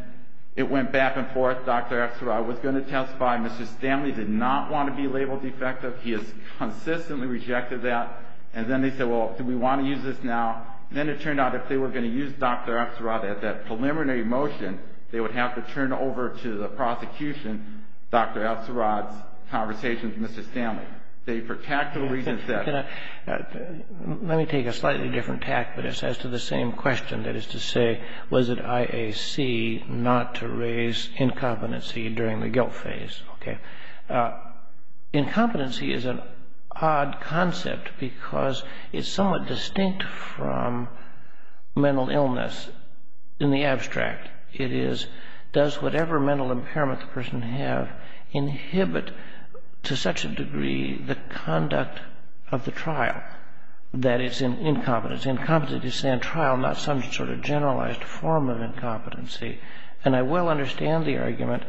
it went back and forth. Dr. Apsarod was going to testify. Mr. Stanley did not want to be labeled defective. He has consistently rejected that. And then they said, well, do we want to use this now? Then it turned out if they were going to use Dr. Apsarod at that preliminary motion, they would have to turn over to the prosecution Dr. Apsarod's conversations with Mr. Stanley. Let me take a slightly different tact, but it's as to the same question. That is to say, was it IAC not to raise incompetency during the guilt phase? Okay. Incompetency is an odd concept because it's somewhat distinct from mental illness in the abstract. It is, does whatever mental impairment the person has inhibit to such a degree the conduct of the trial? That is incompetence. Incompetence is a trial, not some sort of generalized form of incompetency. And I will understand the argument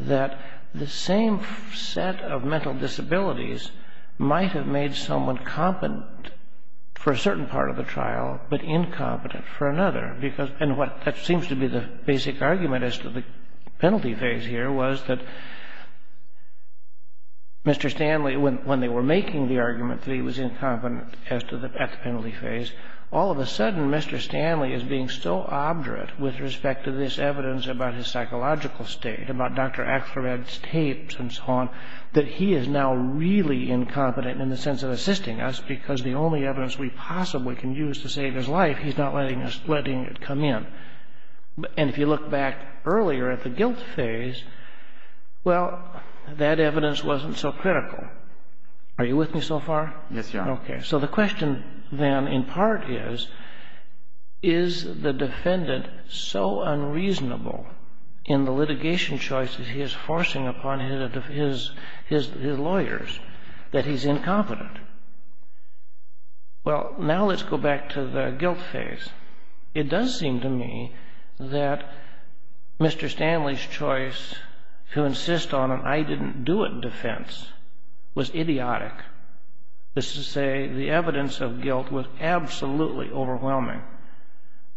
that the same set of mental disabilities might have made someone competent for a certain part of the trial but incompetent for another. And what seems to be the basic argument as to the penalty phase here was that Mr. Stanley, when they were making the argument that he was incompetent at the penalty phase, all of a sudden Mr. Stanley is being so obdurate with respect to this evidence about his psychological state, about Dr. Apsarod's tapes and so on, that he is now really incompetent in the sense of assisting us because the only evidence we possibly can use to save his life, he's not letting it come in. And if you look back earlier at the guilt phase, well, that evidence wasn't so critical. Are you with me so far? Yes, Your Honor. Okay. So the question then in part is, is the defendant so unreasonable in the litigation choices he is forcing upon his lawyers that he's incompetent? Well, now let's go back to the guilt phase. It does seem to me that Mr. Stanley's choice to insist on an I didn't do it defense was idiotic. This is to say the evidence of guilt was absolutely overwhelming.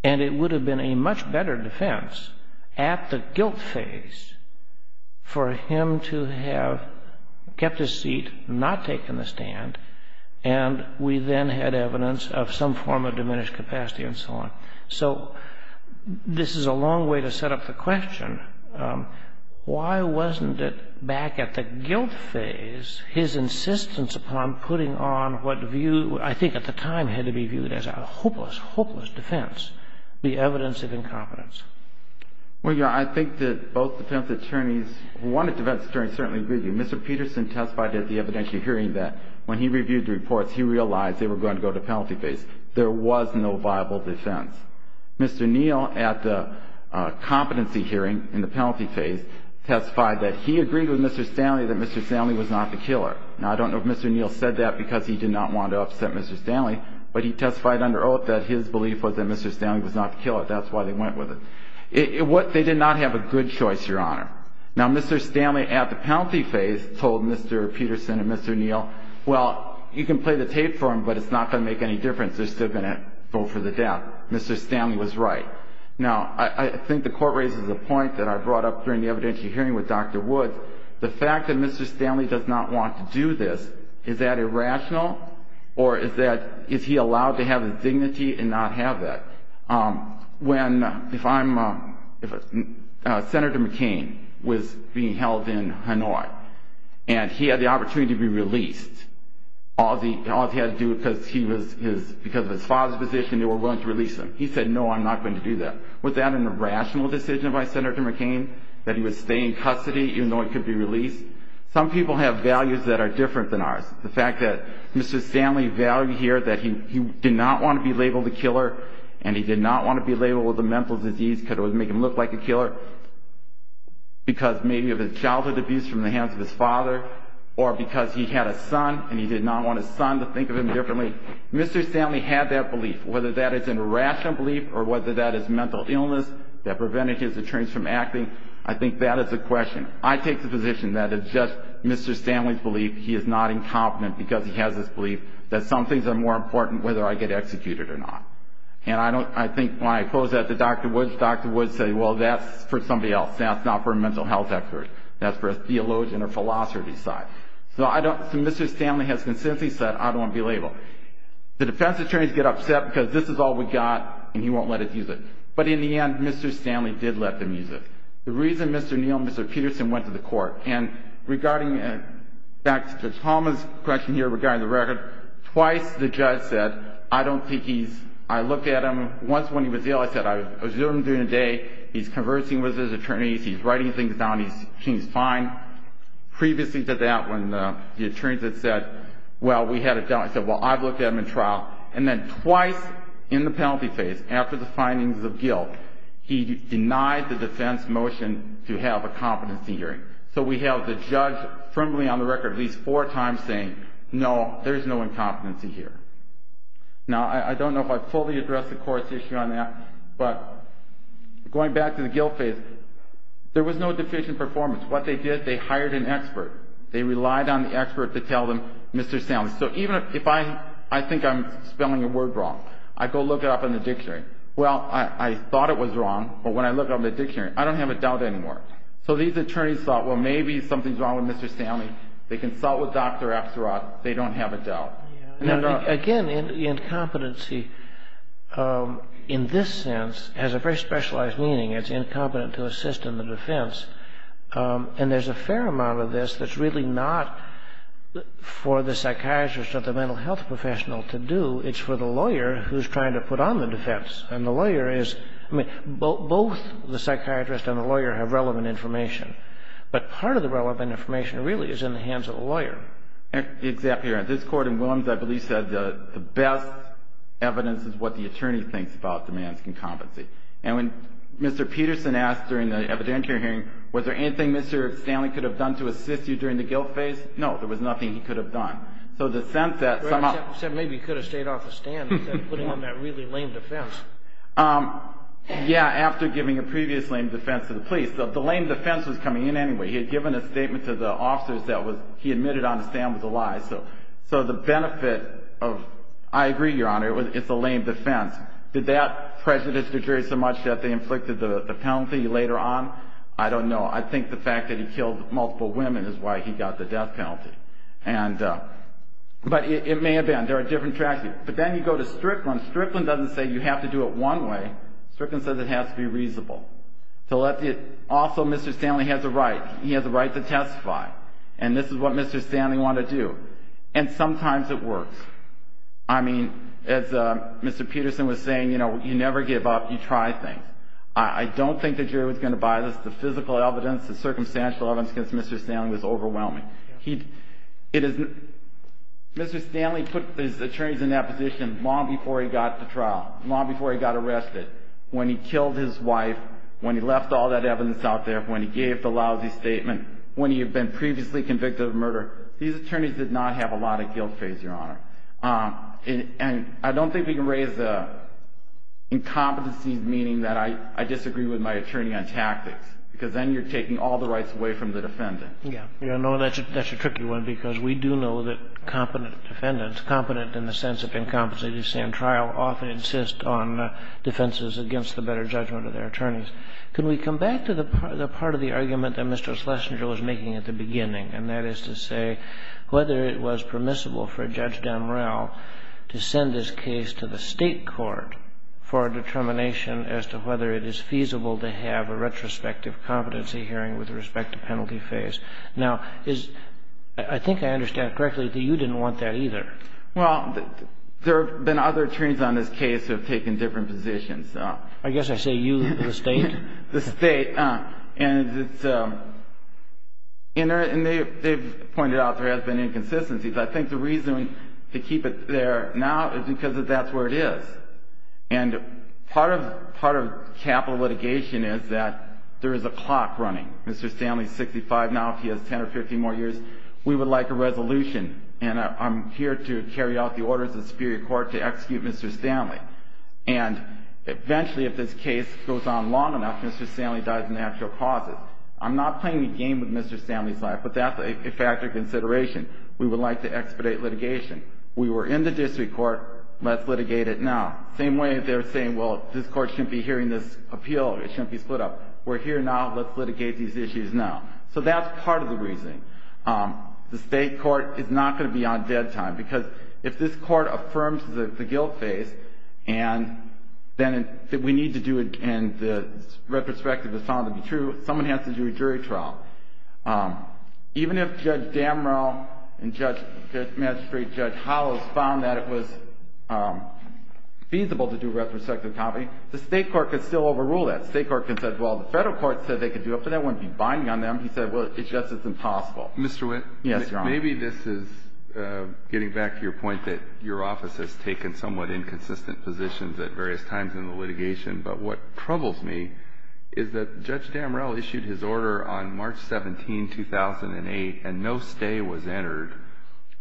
And it would have been a much better defense at the guilt phase for him to have kept his seat, not taken the stand, and we then had evidence of some form of diminished capacity and so on. So this is a long way to set up the question. Why wasn't it back at the guilt phase, his insistence upon putting on what view, I think at the time had to be viewed as a hopeless, hopeless defense, the evidence of incompetence? Well, Your Honor, I think that both defense attorneys, one defense attorney certainly agreed with you. Mr. Peterson testified at the evidential hearing that when he reviewed the reports, he realized they were going to go to the penalty phase. There was no viable defense. Mr. Neal at the competency hearing in the penalty phase testified that he agreed with Mr. Stanley that Mr. Stanley was not the killer. Now, I don't know if Mr. Neal said that because he did not want to upset Mr. Stanley, but he testified under oath that his belief was that Mr. Stanley was not the killer. That's why they went with it. They did not have a good choice, Your Honor. Now, Mr. Stanley at the penalty phase told Mr. Peterson and Mr. Neal, well, you can play the tape for him, but it's not going to make any difference. They're still going to vote for the death. Mr. Stanley was right. Now, I think the court raises a point that I brought up during the evidential hearing with Dr. Woods. The fact that Mr. Stanley does not want to do this, is that irrational, or is he allowed to have his dignity and not have it? When Senator McCain was being held in Hanoi, and he had the opportunity to be released, all he had to do because of his father's position, they were willing to release him. He said, no, I'm not going to do that. Was that an irrational decision by Senator McCain, that he would stay in custody even though he could be released? Some people have values that are different than ours. The fact that Mr. Stanley valued here that he did not want to be labeled a killer, and he did not want to be labeled with a mental disease because it would make him look like a killer, because maybe of his childhood abuse from the hands of his father, or because he had a son and he did not want his son to think of him differently. Mr. Stanley had that belief. Whether that is an irrational belief, or whether that is mental illness that prevented his attorneys from acting, I think that is the question. I take the position that it's just Mr. Stanley's belief. He is not incompetent because he has this belief that some things are more important whether I get executed or not. I think when I close that to Dr. Woods, Dr. Woods says, well, that's for somebody else. That's not for a mental health expert. That's for a theologian or philosophy side. Mr. Stanley has consistently said, I don't want to be labeled. The defense attorneys get upset because this is all we've got, and he won't let us use it. But in the end, Mr. Stanley did let them use it. The reason Mr. Neal and Mr. Peterson went to the court, and regarding back to Ms. Holman's question here regarding the record, twice the judge said, I don't think he's, I looked at him once when he was jailed. I said, I was Zoomed in a day. He's conversing with his attorneys. He's writing things down. He seems fine. Previously to that, when the attorneys had said, well, we had a doubt. I said, well, I've looked at him in trial. And then twice in the penalty phase, after the findings of guilt, he denied the defense motion to have a competency hearing. So we have the judge firmly on the record at least four times saying, no, there's no incompetency hearing. Now, I don't know if I fully addressed the court's issue on that, but going back to the guilt phase, there was no deficient performance. What they did, they hired an expert. They relied on the expert to tell them, Mr. Stanley. So even if I think I'm spelling a word wrong, I go look it up in the dictionary. Well, I thought it was wrong, but when I looked it up in the dictionary, I don't have a doubt anymore. So these attorneys thought, well, maybe something's wrong with Mr. Stanley. They consult with doctor after us. They don't have a doubt. Again, the incompetency in this sense has a very specialized meaning. It's incompetent to assist in the defense. And there's a fair amount of this that's really not for the psychiatrist or the mental health professional to do. It's for the lawyer who's trying to put on the defense. And the lawyer is – I mean, both the psychiatrist and the lawyer have relevant information. But part of the relevant information really is in the hands of a lawyer. Exactly. This court in Williams, I believe, said the best evidence is what the attorney thinks about the man's incompetency. And when Mr. Peterson asked during the evidentiary hearing, was there anything Mr. Stanley could have done to assist you during the guilt phase? No, there was nothing he could have done. He said maybe he could have stayed off the stand instead of putting on that really lame defense. Yeah, after giving a previous lame defense to the police. But the lame defense was coming in anyway. He had given a statement to the officers that he admitted on the stand was a lie. So the benefit of – I agree, Your Honor, it's a lame defense. Did that prejudice deteriorate so much that they inflicted the penalty later on? I don't know. I think the fact that he killed multiple women is why he got the death penalty. But it may have been. There are different track years. Then you go to Strickland. Strickland doesn't say you have to do it one way. Strickland says it has to be reasonable. Also, Mr. Stanley has a right. He has a right to testify. And this is what Mr. Stanley wanted to do. And sometimes it works. I mean, as Mr. Peterson was saying, you never give up. He tries things. I don't think the jury was going to buy this. The physical evidence, the circumstantial evidence against Mr. Stanley was overwhelming. It is – Mr. Stanley put his attorneys in that position long before he got to trial, long before he got arrested. When he killed his wife, when he left all that evidence out there, when he gave the lousy statement, when he had been previously convicted of murder, these attorneys did not have a lot of guilt, Your Honor. And I don't think we can raise the incompetencies, meaning that I disagree with my attorney on tactics, because then you're taking all the rights away from the defendant. Yeah. No, that's a tricky one, because we do know that competent defendants, competent in the sense of incompetence, as you say, in trial, often insist on defenses against the better judgment of their attorneys. Can we come back to the part of the argument that Mr. Schlesinger was making at the beginning, and that is to say whether it was permissible for Judge Dunrell to send his case to the state court for determination as to whether it is feasible to have a retrospective competency hearing with respect to penalty phase? Now, I think I understand correctly that you didn't want that either. Well, there have been other attorneys on this case who have taken different positions. I guess I say you, the state. The state. And they've pointed out there has been inconsistencies. I think the reason to keep it there now is because that's where it is. And part of capital litigation is that there is a clock running. Mr. Stanley is 65 now. If he has 10 or 15 more years, we would like a resolution. And I'm here to carry out the orders of the Superior Court to execute Mr. Stanley. And eventually, if this case goes on long enough, Mr. Stanley dies in actual pauses. I'm not playing a game with Mr. Stanley's life, but that's a factor of consideration. We would like to expedite litigation. We were in the district court. Let's litigate it now. Same way as they were saying, well, this court shouldn't be hearing this appeal. It shouldn't be split up. We're here now. Let's litigate these issues now. So that's part of the reasoning. The state court is not going to be on dead time because if this court affirms that it's a guilt case, and then we need to do it and the retrospective is found to be true, someone has to do a jury trial. Even if Judge Damrell and Magistrate Judge Hollow found that it was feasible to do retrospective copies, the state court could still overrule that. The state court can say, well, the federal court said they could do it, but that wouldn't be binding on them. He said, well, it's just as impossible. Mr. Witt? Yes, Your Honor. Maybe this is getting back to your point that your office has taken somewhat inconsistent positions at various times in the litigation. But what troubles me is that Judge Damrell issued his order on March 17, 2008, and no stay was entered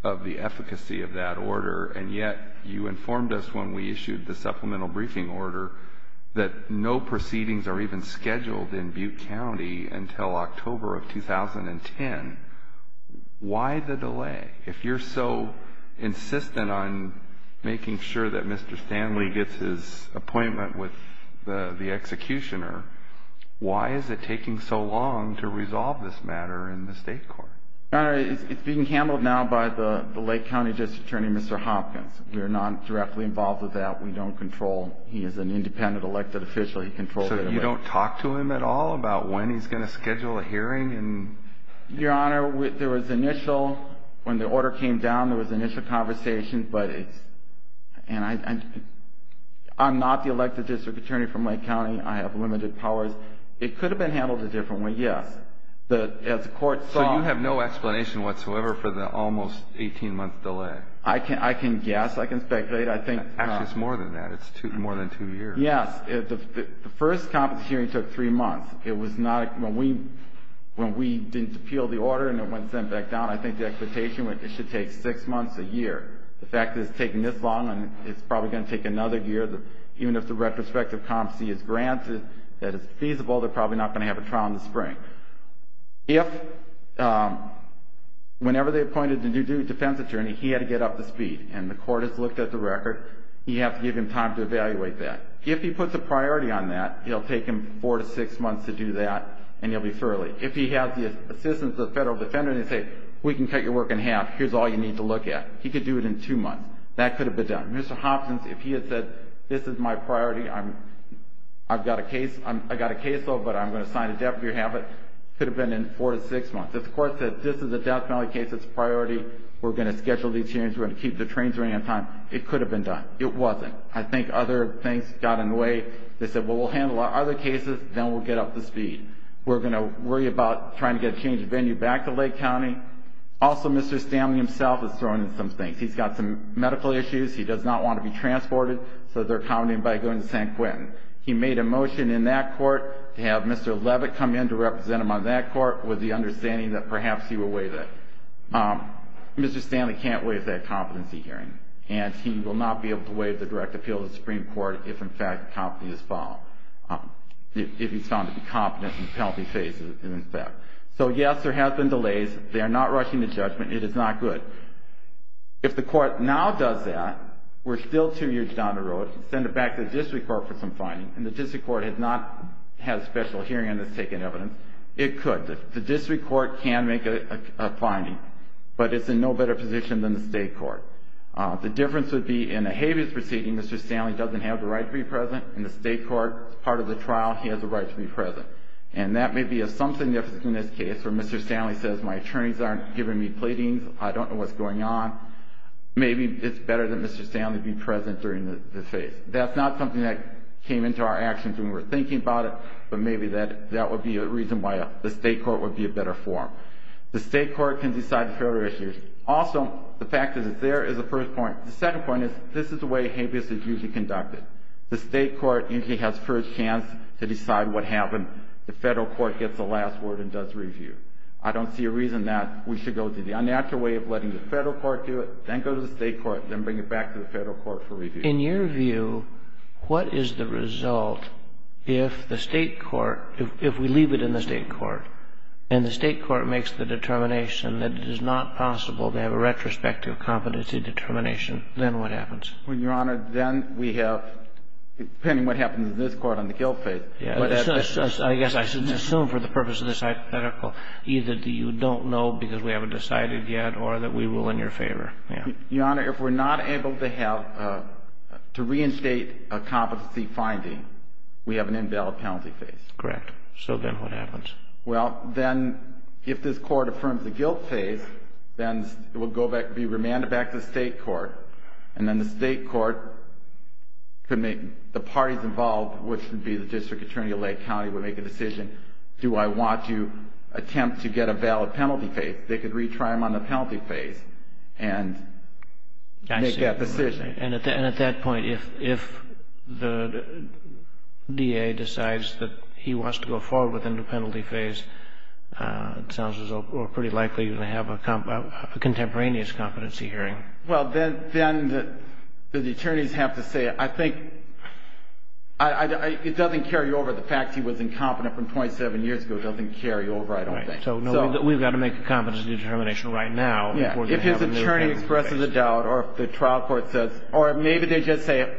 of the efficacy of that order, and yet you informed us when we issued the supplemental briefing order that no proceedings are even scheduled in Butte County until October of 2010. Why the delay? If you're so insistent on making sure that Mr. Stanley gets his appointment with the executioner, why is it taking so long to resolve this matter in the state court? Your Honor, it's being handled now by the Lake County District Attorney, Mr. Hopkins. We are not directly involved with that. We don't control. He is an independent elected official. He controls everything. So you don't talk to him at all about when he's going to schedule a hearing? Your Honor, when the order came down, there was initial conversation, but I'm not the elected district attorney from Lake County. I have limited powers. It could have been handled a different way, yes. So you have no explanation whatsoever for the almost 18-month delay? I can guess. I can speculate. Actually, it's more than that. It's more than two years. Yes. The first conference hearing took three months. When we didn't appeal the order and it went sent back down, I think the expectation was it should take six months to a year. The fact that it's taking this long, it's probably going to take another year. Even if the retrospective comp sees it's granted, that it's feasible, they're probably not going to have a trial in the spring. Whenever they appointed the new district defense attorney, he had to get up to speed, and the court has looked at the record. You have to give him time to evaluate that. If he puts a priority on that, it'll take him four to six months to do that, and he'll be thoroughly. If he has the assistance of a federal defender and he says, we can cut your work in half, here's all you need to look at, he could do it in two months. That could have been done. Mr. Hopkins, if he had said, this is my priority, I've got a case, I've got a case, but I'm going to sign a death penalty if you have it, it could have been in four to six months. If the court said, this is a death penalty case, it's a priority, we're going to schedule these changes, we're going to keep the trains running on time, it could have been done. It wasn't. I think other things got in the way. They said, well, we'll handle our other cases, then we'll get up to speed. We're going to worry about trying to get a change of venue back to Lake County. Also, Mr. Stanley himself is throwing in some things. He's got some medical issues. He does not want to be transported, so they're counting him by going to San Quentin. He made a motion in that court to have Mr. Levitt come in to represent him on that court with the understanding that perhaps he will waive it. Mr. Stanley can't waive that competency hearing, and he will not be able to waive the direct appeal to the Supreme Court if, in fact, the competency is found. If he's found to be competent, he's healthy-faced, and in fact. So, yes, there have been delays. They're not rushing the judgment. It is not good. If the court now does that, we're still two years down the road. Send it back to the district court for some findings. And the district court has not had a special hearing and has taken evidence. It could. The district court can make a finding. But it's in no better position than the state court. The difference would be in a habeas proceeding, Mr. Stanley doesn't have the right to be present. In the state court, part of the trial, he has the right to be present. And that may be of some significance in this case where Mr. Stanley says, my attorneys aren't giving me pleadings. I don't know what's going on. Maybe it's better that Mr. Stanley be present during this phase. That's not something that came into our actions when we were thinking about it, but maybe that would be a reason why the state court would be a better forum. The state court can decide the federal issues. Also, the fact is that there is a first point. The second point is this is the way habeas is usually conducted. The state court usually has first chance to decide what happens. The federal court gets the last word and does review. I don't see a reason that we should go to the unnatural way of letting the federal court do it, then go to the state court, then bring it back to the federal court for review. In your view, what is the result if the state court, if we leave it in the state court and the state court makes the determination that it is not possible to have a retrospective competency determination, then what happens? Well, Your Honor, then we have, depending on what happens in this court on the guilt phase. I guess I should assume for the purpose of this hypothetical, either you don't know because we haven't decided yet or that we will in your favor. Your Honor, if we're not able to have, to reinstate a competency finding, we have an invalid penalty phase. Correct. So then what happens? Well, then if this court affirms the guilt phase, then it will be remanded back to the state court, and then the state court, the parties involved, which would be the district attorney of Lake County, would make a decision, do I want to attempt to get a valid penalty phase? They could retry them on the penalty phase and make that decision. And at that point, if the DA decides that he wants to go forward with the penalty phase, it sounds as though we're pretty likely going to have a contemporaneous competency hearing. Well, then the attorneys have to say, I think it doesn't carry over. The fact he was incompetent from 27 years ago doesn't carry over, I don't think. So we've got to make a competency determination right now. If his attorney expresses a doubt or if the trial court says, or maybe they just say,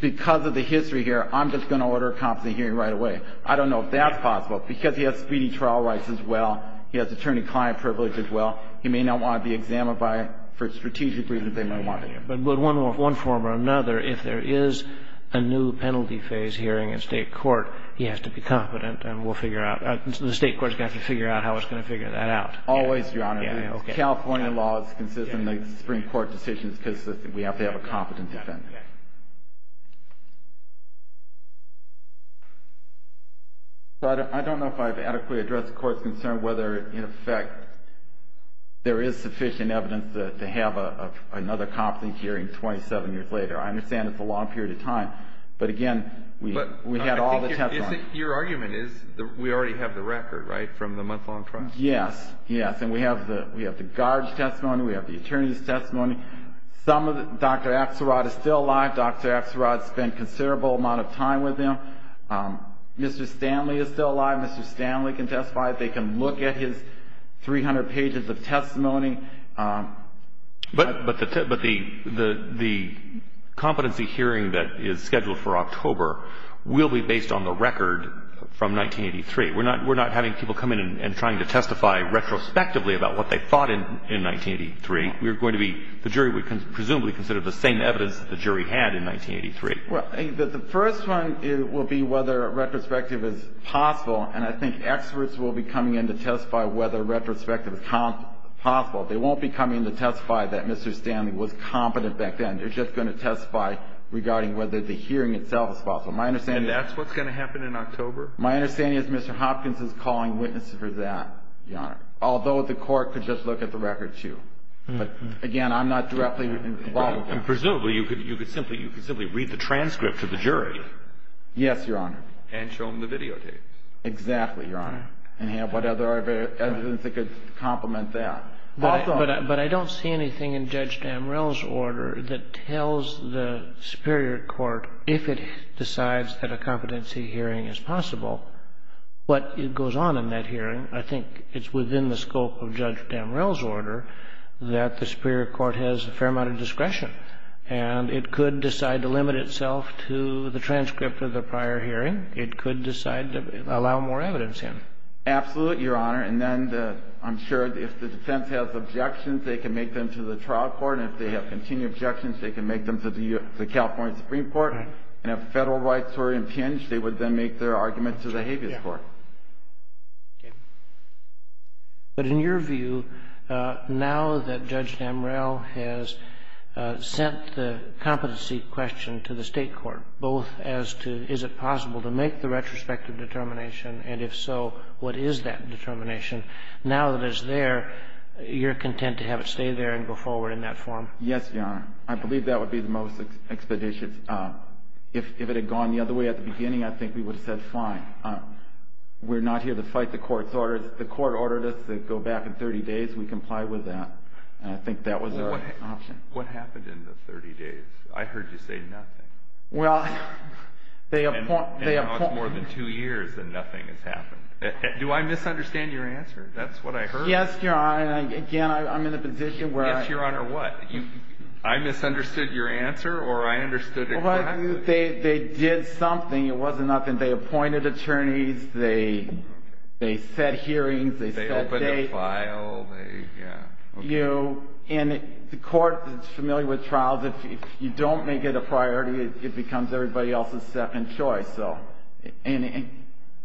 because of the history here, I'm just going to order a competency hearing right away. I don't know if that's possible. Because he has speeding trial rights as well, he has attorney-client privilege as well, he may not want to be examined for strategic reasons they might want. But one form or another, if there is a new penalty phase hearing in state court, he has to be competent, and we'll figure out, the state court's got to figure out how it's going to figure that out. Always, Your Honor. California law is consistent in the Supreme Court decisions because we have to have a competent defendant. But I don't know if I've adequately addressed the court's concern whether, in effect, there is sufficient evidence to have another competence hearing 27 years later. I understand it's a long period of time, but, again, we have all the testimonies. Your argument is we already have the record, right, from the month-long trial? Yes. Yes, and we have the guard's testimony, we have the attorney's testimony. Dr. Axelrod is still alive. Dr. Axelrod spent a considerable amount of time with him. Mr. Stanley is still alive. Mr. Stanley can testify. They can look at his 300 pages of testimony. But the competency hearing that is scheduled for October will be based on the record from 1983. We're not having people come in and trying to testify retrospectively about what they thought in 1983. The jury would presumably consider the same evidence that the jury had in 1983. Well, the first one will be whether retrospective is possible, and I think experts will be coming in to testify whether retrospective is possible. They won't be coming in to testify that Mr. Stanley was competent back then. They're just going to testify regarding whether the hearing itself is possible. And that's what's going to happen in October? My understanding is Mr. Hopkins is calling witnesses for that, Your Honor, although the court could just look at the record, too. Again, I'm not directly involved. Presumably you could simply read the transcript to the jury. Yes, Your Honor. And show them the videotapes. Exactly, Your Honor. And have whatever other evidence that could complement that. But I don't see anything in Judge Damrell's order that tells the Superior Court, if it decides that a competency hearing is possible, what goes on in that hearing. I think it's within the scope of Judge Damrell's order that the Superior Court has a fair amount of discretion. And it could decide to limit itself to the transcript of the prior hearing. It could decide to allow more evidence in. Absolutely, Your Honor. And then I'm sure if the defense has objections, they can make them to the trial court. And if they have continued objections, they can make them to the California Supreme Court. And if federal rights were impinged, they would then make their argument to the Haitian court. Okay. But in your view, now that Judge Damrell has sent the competency question to the state court, both as to is it possible to make the retrospective determination, and if so, what is that determination, now that it's there, you're content to have it stay there and go forward in that form? Yes, Your Honor. I believe that would be the most expeditious. If it had gone the other way at the beginning, I think we would have said, fine. We're not here to fight the court's orders. The court ordered us to go back in 30 days and comply with that. I think that was our option. What happened in those 30 days? I heard you say nothing. Well, they have fought more than two years and nothing has happened. Do I misunderstand your answer? That's what I heard. Yes, Your Honor. Again, I'm in a position where I – Yes, Your Honor. What? I misunderstood your answer or I understood exactly what – Well, they did something. It wasn't nothing. They appointed attorneys. They set hearings. They held cases. They opened a file. Yeah. Okay. And the court is familiar with trials. If you don't make it a priority, it becomes everybody else's step and choice. And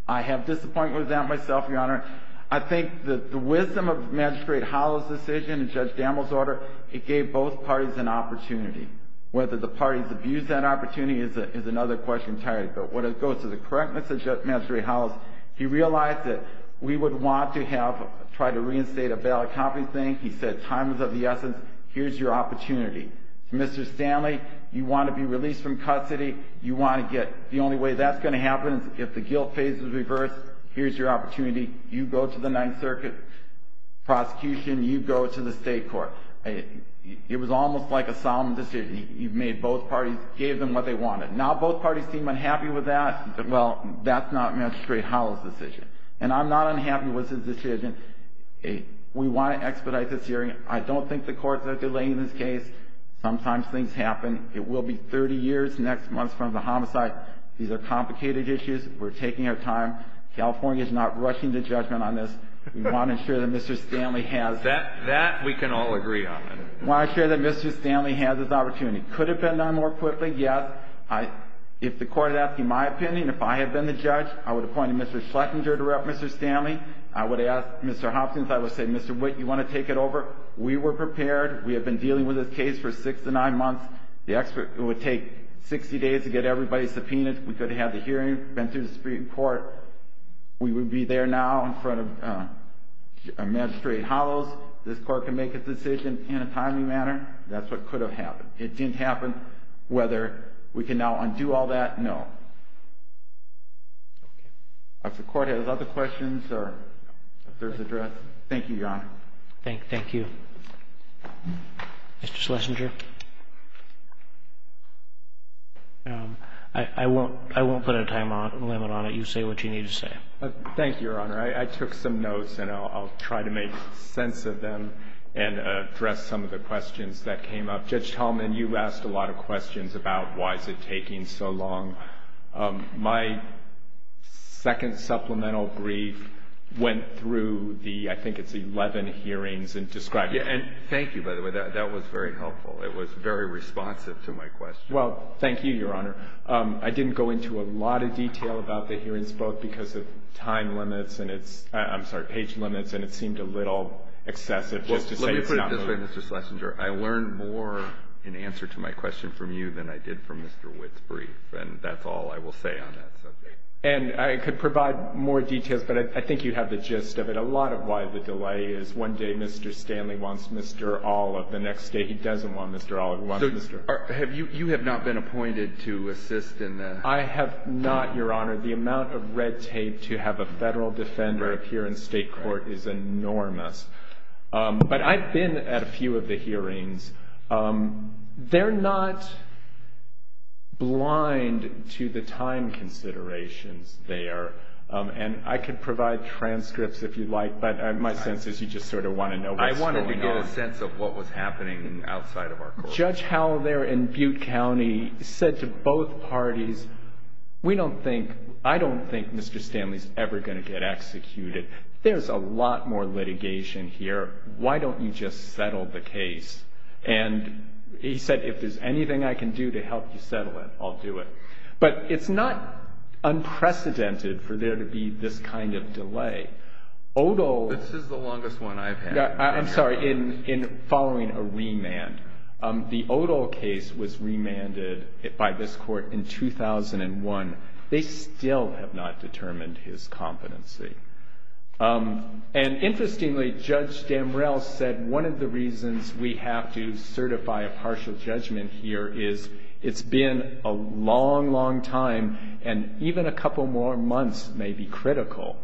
I have disappointment with that myself, Your Honor. I think that the wisdom of Magistrate Holloway's decision and Judge Dammel's order, it gave both parties an opportunity. Whether the parties abused that opportunity is another question. But when it goes to the correctness of Magistrate Holloway, he realized that we would want to have tried to reinstate a bail accounting thing. He said time was of the essence. Here's your opportunity. Mr. Stanley, you want to be released from custody. You want to get – the only way that's going to happen, if the guilt phase is reversed, here's your opportunity. You go to the Ninth Circuit prosecution. You go to the state court. It was almost like a solemn decision. You made both parties – gave them what they wanted. Now both parties seem unhappy with that. Well, that's not Magistrate Holloway's decision. And I'm not unhappy with his decision. We want to expedite this hearing. I don't think the court will delay this case. Sometimes things happen. It will be 30 years next month from the homicide. These are complicated issues. We're taking our time. California is not rushing the judgment on this. We want to ensure that Mr. Stanley has – That we can all agree on. We want to ensure that Mr. Stanley has his opportunity. Could it have been done more quickly? Yes. If the court is asking my opinion, if I had been the judge, I would appoint Mr. Schlesinger to rep Mr. Stanley. I would ask Mr. Hopkins, I would say, Mr. Witt, you want to take it over? We were prepared. We have been dealing with this case for six to nine months. The expert would take 60 days to get everybody subpoenaed. We could have the hearing sent to the Supreme Court. We would be there now in front of Magistrate Holloway. This court can make its decision in a timely manner. That's what could have happened. It didn't happen. Whether we can now undo all that, no. If the court has other questions or a further address, thank you, Your Honor. Thank you. Mr. Schlesinger? I won't put a time limit on it. You say what you need to say. Thank you, Your Honor. I took some notes, and I'll try to make sense of them and address some of the questions that came up. Judge Tallman, you've asked a lot of questions about why is it taking so long. My second supplemental brief went through the, I think it's 11 hearings and described it. Thank you, by the way. That was very helpful. It was very responsive to my question. Well, thank you, Your Honor. I didn't go into a lot of detail about the hearings, both because of time limits and it's, I'm sorry, page limits, and it seemed a little excessive. Let me put it this way, Mr. Schlesinger. I learned more in answer to my question from you than I did from Mr. Witt's brief, and that's all I will say on that subject. And I could provide more details, but I think you have the gist of it. A lot of why the delay is one day Mr. Stanley wants Mr. Olive, the next day he doesn't want Mr. Olive. You have not been appointed to assist in that. I have not, Your Honor. The amount of red tape to have a federal defender appear in state court is enormous. But I've been at a few of the hearings. They're not blind to the time considerations there, and I could provide transcripts if you'd like, but my sense is you just sort of want to know what's going on. I wanted to get a sense of what was happening outside of our court. Judge Howell there in Butte County said to both parties, we don't think, I don't think Mr. Stanley's ever going to get executed. There's a lot more litigation here. Why don't you just settle the case? And he said, if there's anything I can do to help you settle it, I'll do it. But it's not unprecedented for there to be this kind of delay. This is the longest one I've had. I'm sorry. In following a remand, the Odole case was remanded by this court in 2001. They still have not determined his competency. And interestingly, Judge Damrell said one of the reasons we have to certify a partial judgment here is it's been a long, long time, and even a couple more months may be critical.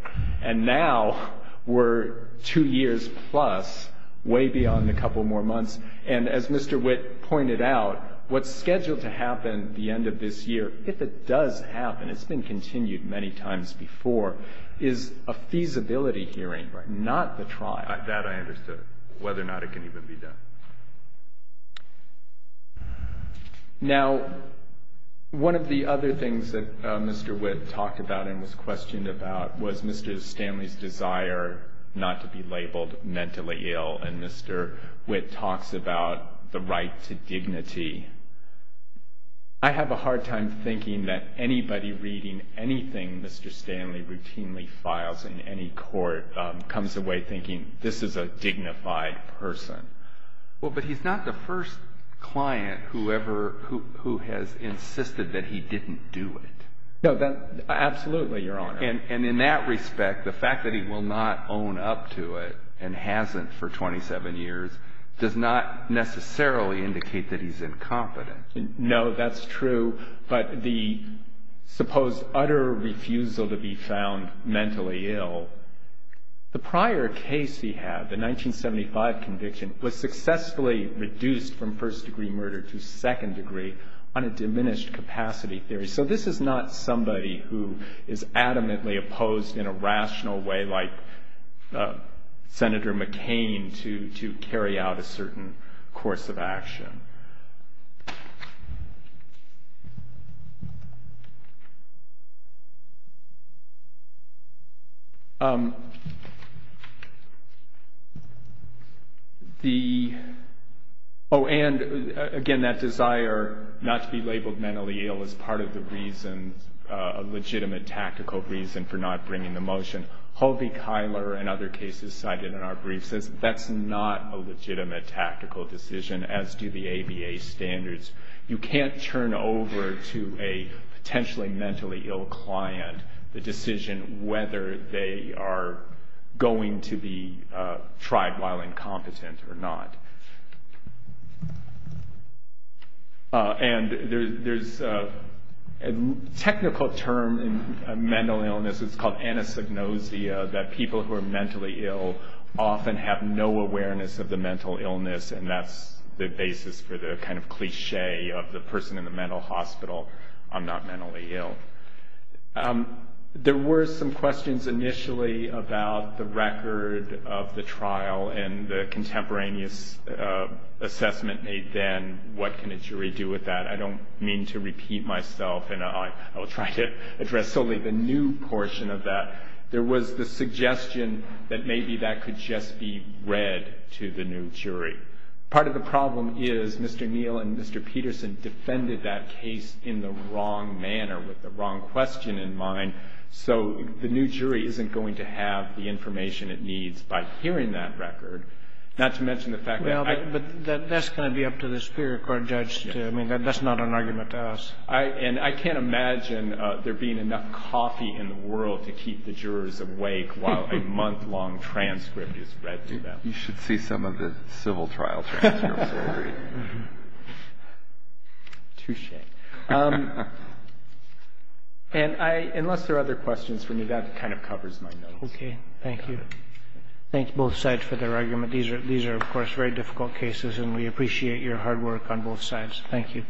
And now we're two years plus, way beyond a couple more months. And as Mr. Witt pointed out, what's scheduled to happen at the end of this year, if it does happen, it's been continued many times before, is a feasibility hearing, not the trial. That I understand, whether or not it can even be done. Now, one of the other things that Mr. Witt talked about and was questioned about was Mr. Stanley's desire not to be labeled mentally ill. And Mr. Witt talks about the right to dignity. I have a hard time thinking that anybody reading anything Mr. Stanley routinely files in any court comes away thinking this is a dignified person. Well, but he's not the first client who has insisted that he didn't do it. No, absolutely, Your Honor. And in that respect, the fact that he will not own up to it and hasn't for 27 years does not necessarily indicate that he's incompetent. No, that's true. But the supposed utter refusal to be found mentally ill, the prior case he had, the 1975 conviction, was successfully reduced from first degree murder to second degree on a diminished capacity theory. So this is not somebody who is adamantly opposed in a rational way, like Senator McCain, to carry out a certain course of action. And, again, that desire not to be labeled mentally ill is part of the reason, a legitimate tactical reason for not bringing the motion. Hove Kyler, in other cases cited in our brief, says that's not a legitimate tactical decision, as do the ABA standards. You can't turn over to a potentially mentally ill client the decision whether they are going to be tried while incompetent or not. And there's a technical term in mental illness. It's called anosognosia, that people who are mentally ill often have no awareness of the mental illness, and that's the basis for the kind of cliche of the person in the mental hospital, I'm not mentally ill. There were some questions initially about the record of the trial and the contemporaneous assessment made then, what can a jury do with that? I don't mean to repeat myself, and I'll try to address solely the new portion of that. There was the suggestion that maybe that could just be read to the new jury. Part of the problem is Mr. Neal and Mr. Peterson defended that case in the wrong manner with the wrong question in mind, so the new jury isn't going to have the information it needs by hearing that record, not to mention the fact that I... Well, that's going to be up to the Superior Court judge to... I mean, that's not an argument to us. And I can't imagine there being enough coffee in the world to keep the jurors awake while a month-long transcript is read to them. You should see some of the civil trial transcripts. Touche. And unless there are other questions, that kind of covers my notes. Okay. Thank you. Thank both sides for their argument. These are, of course, very difficult cases, and we appreciate your hard work on both sides. Thank you.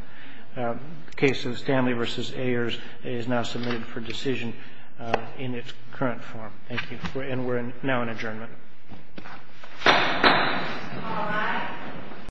The case of Stanley v. Ayers is now submitted for decision in its current form, and we're now in adjournment.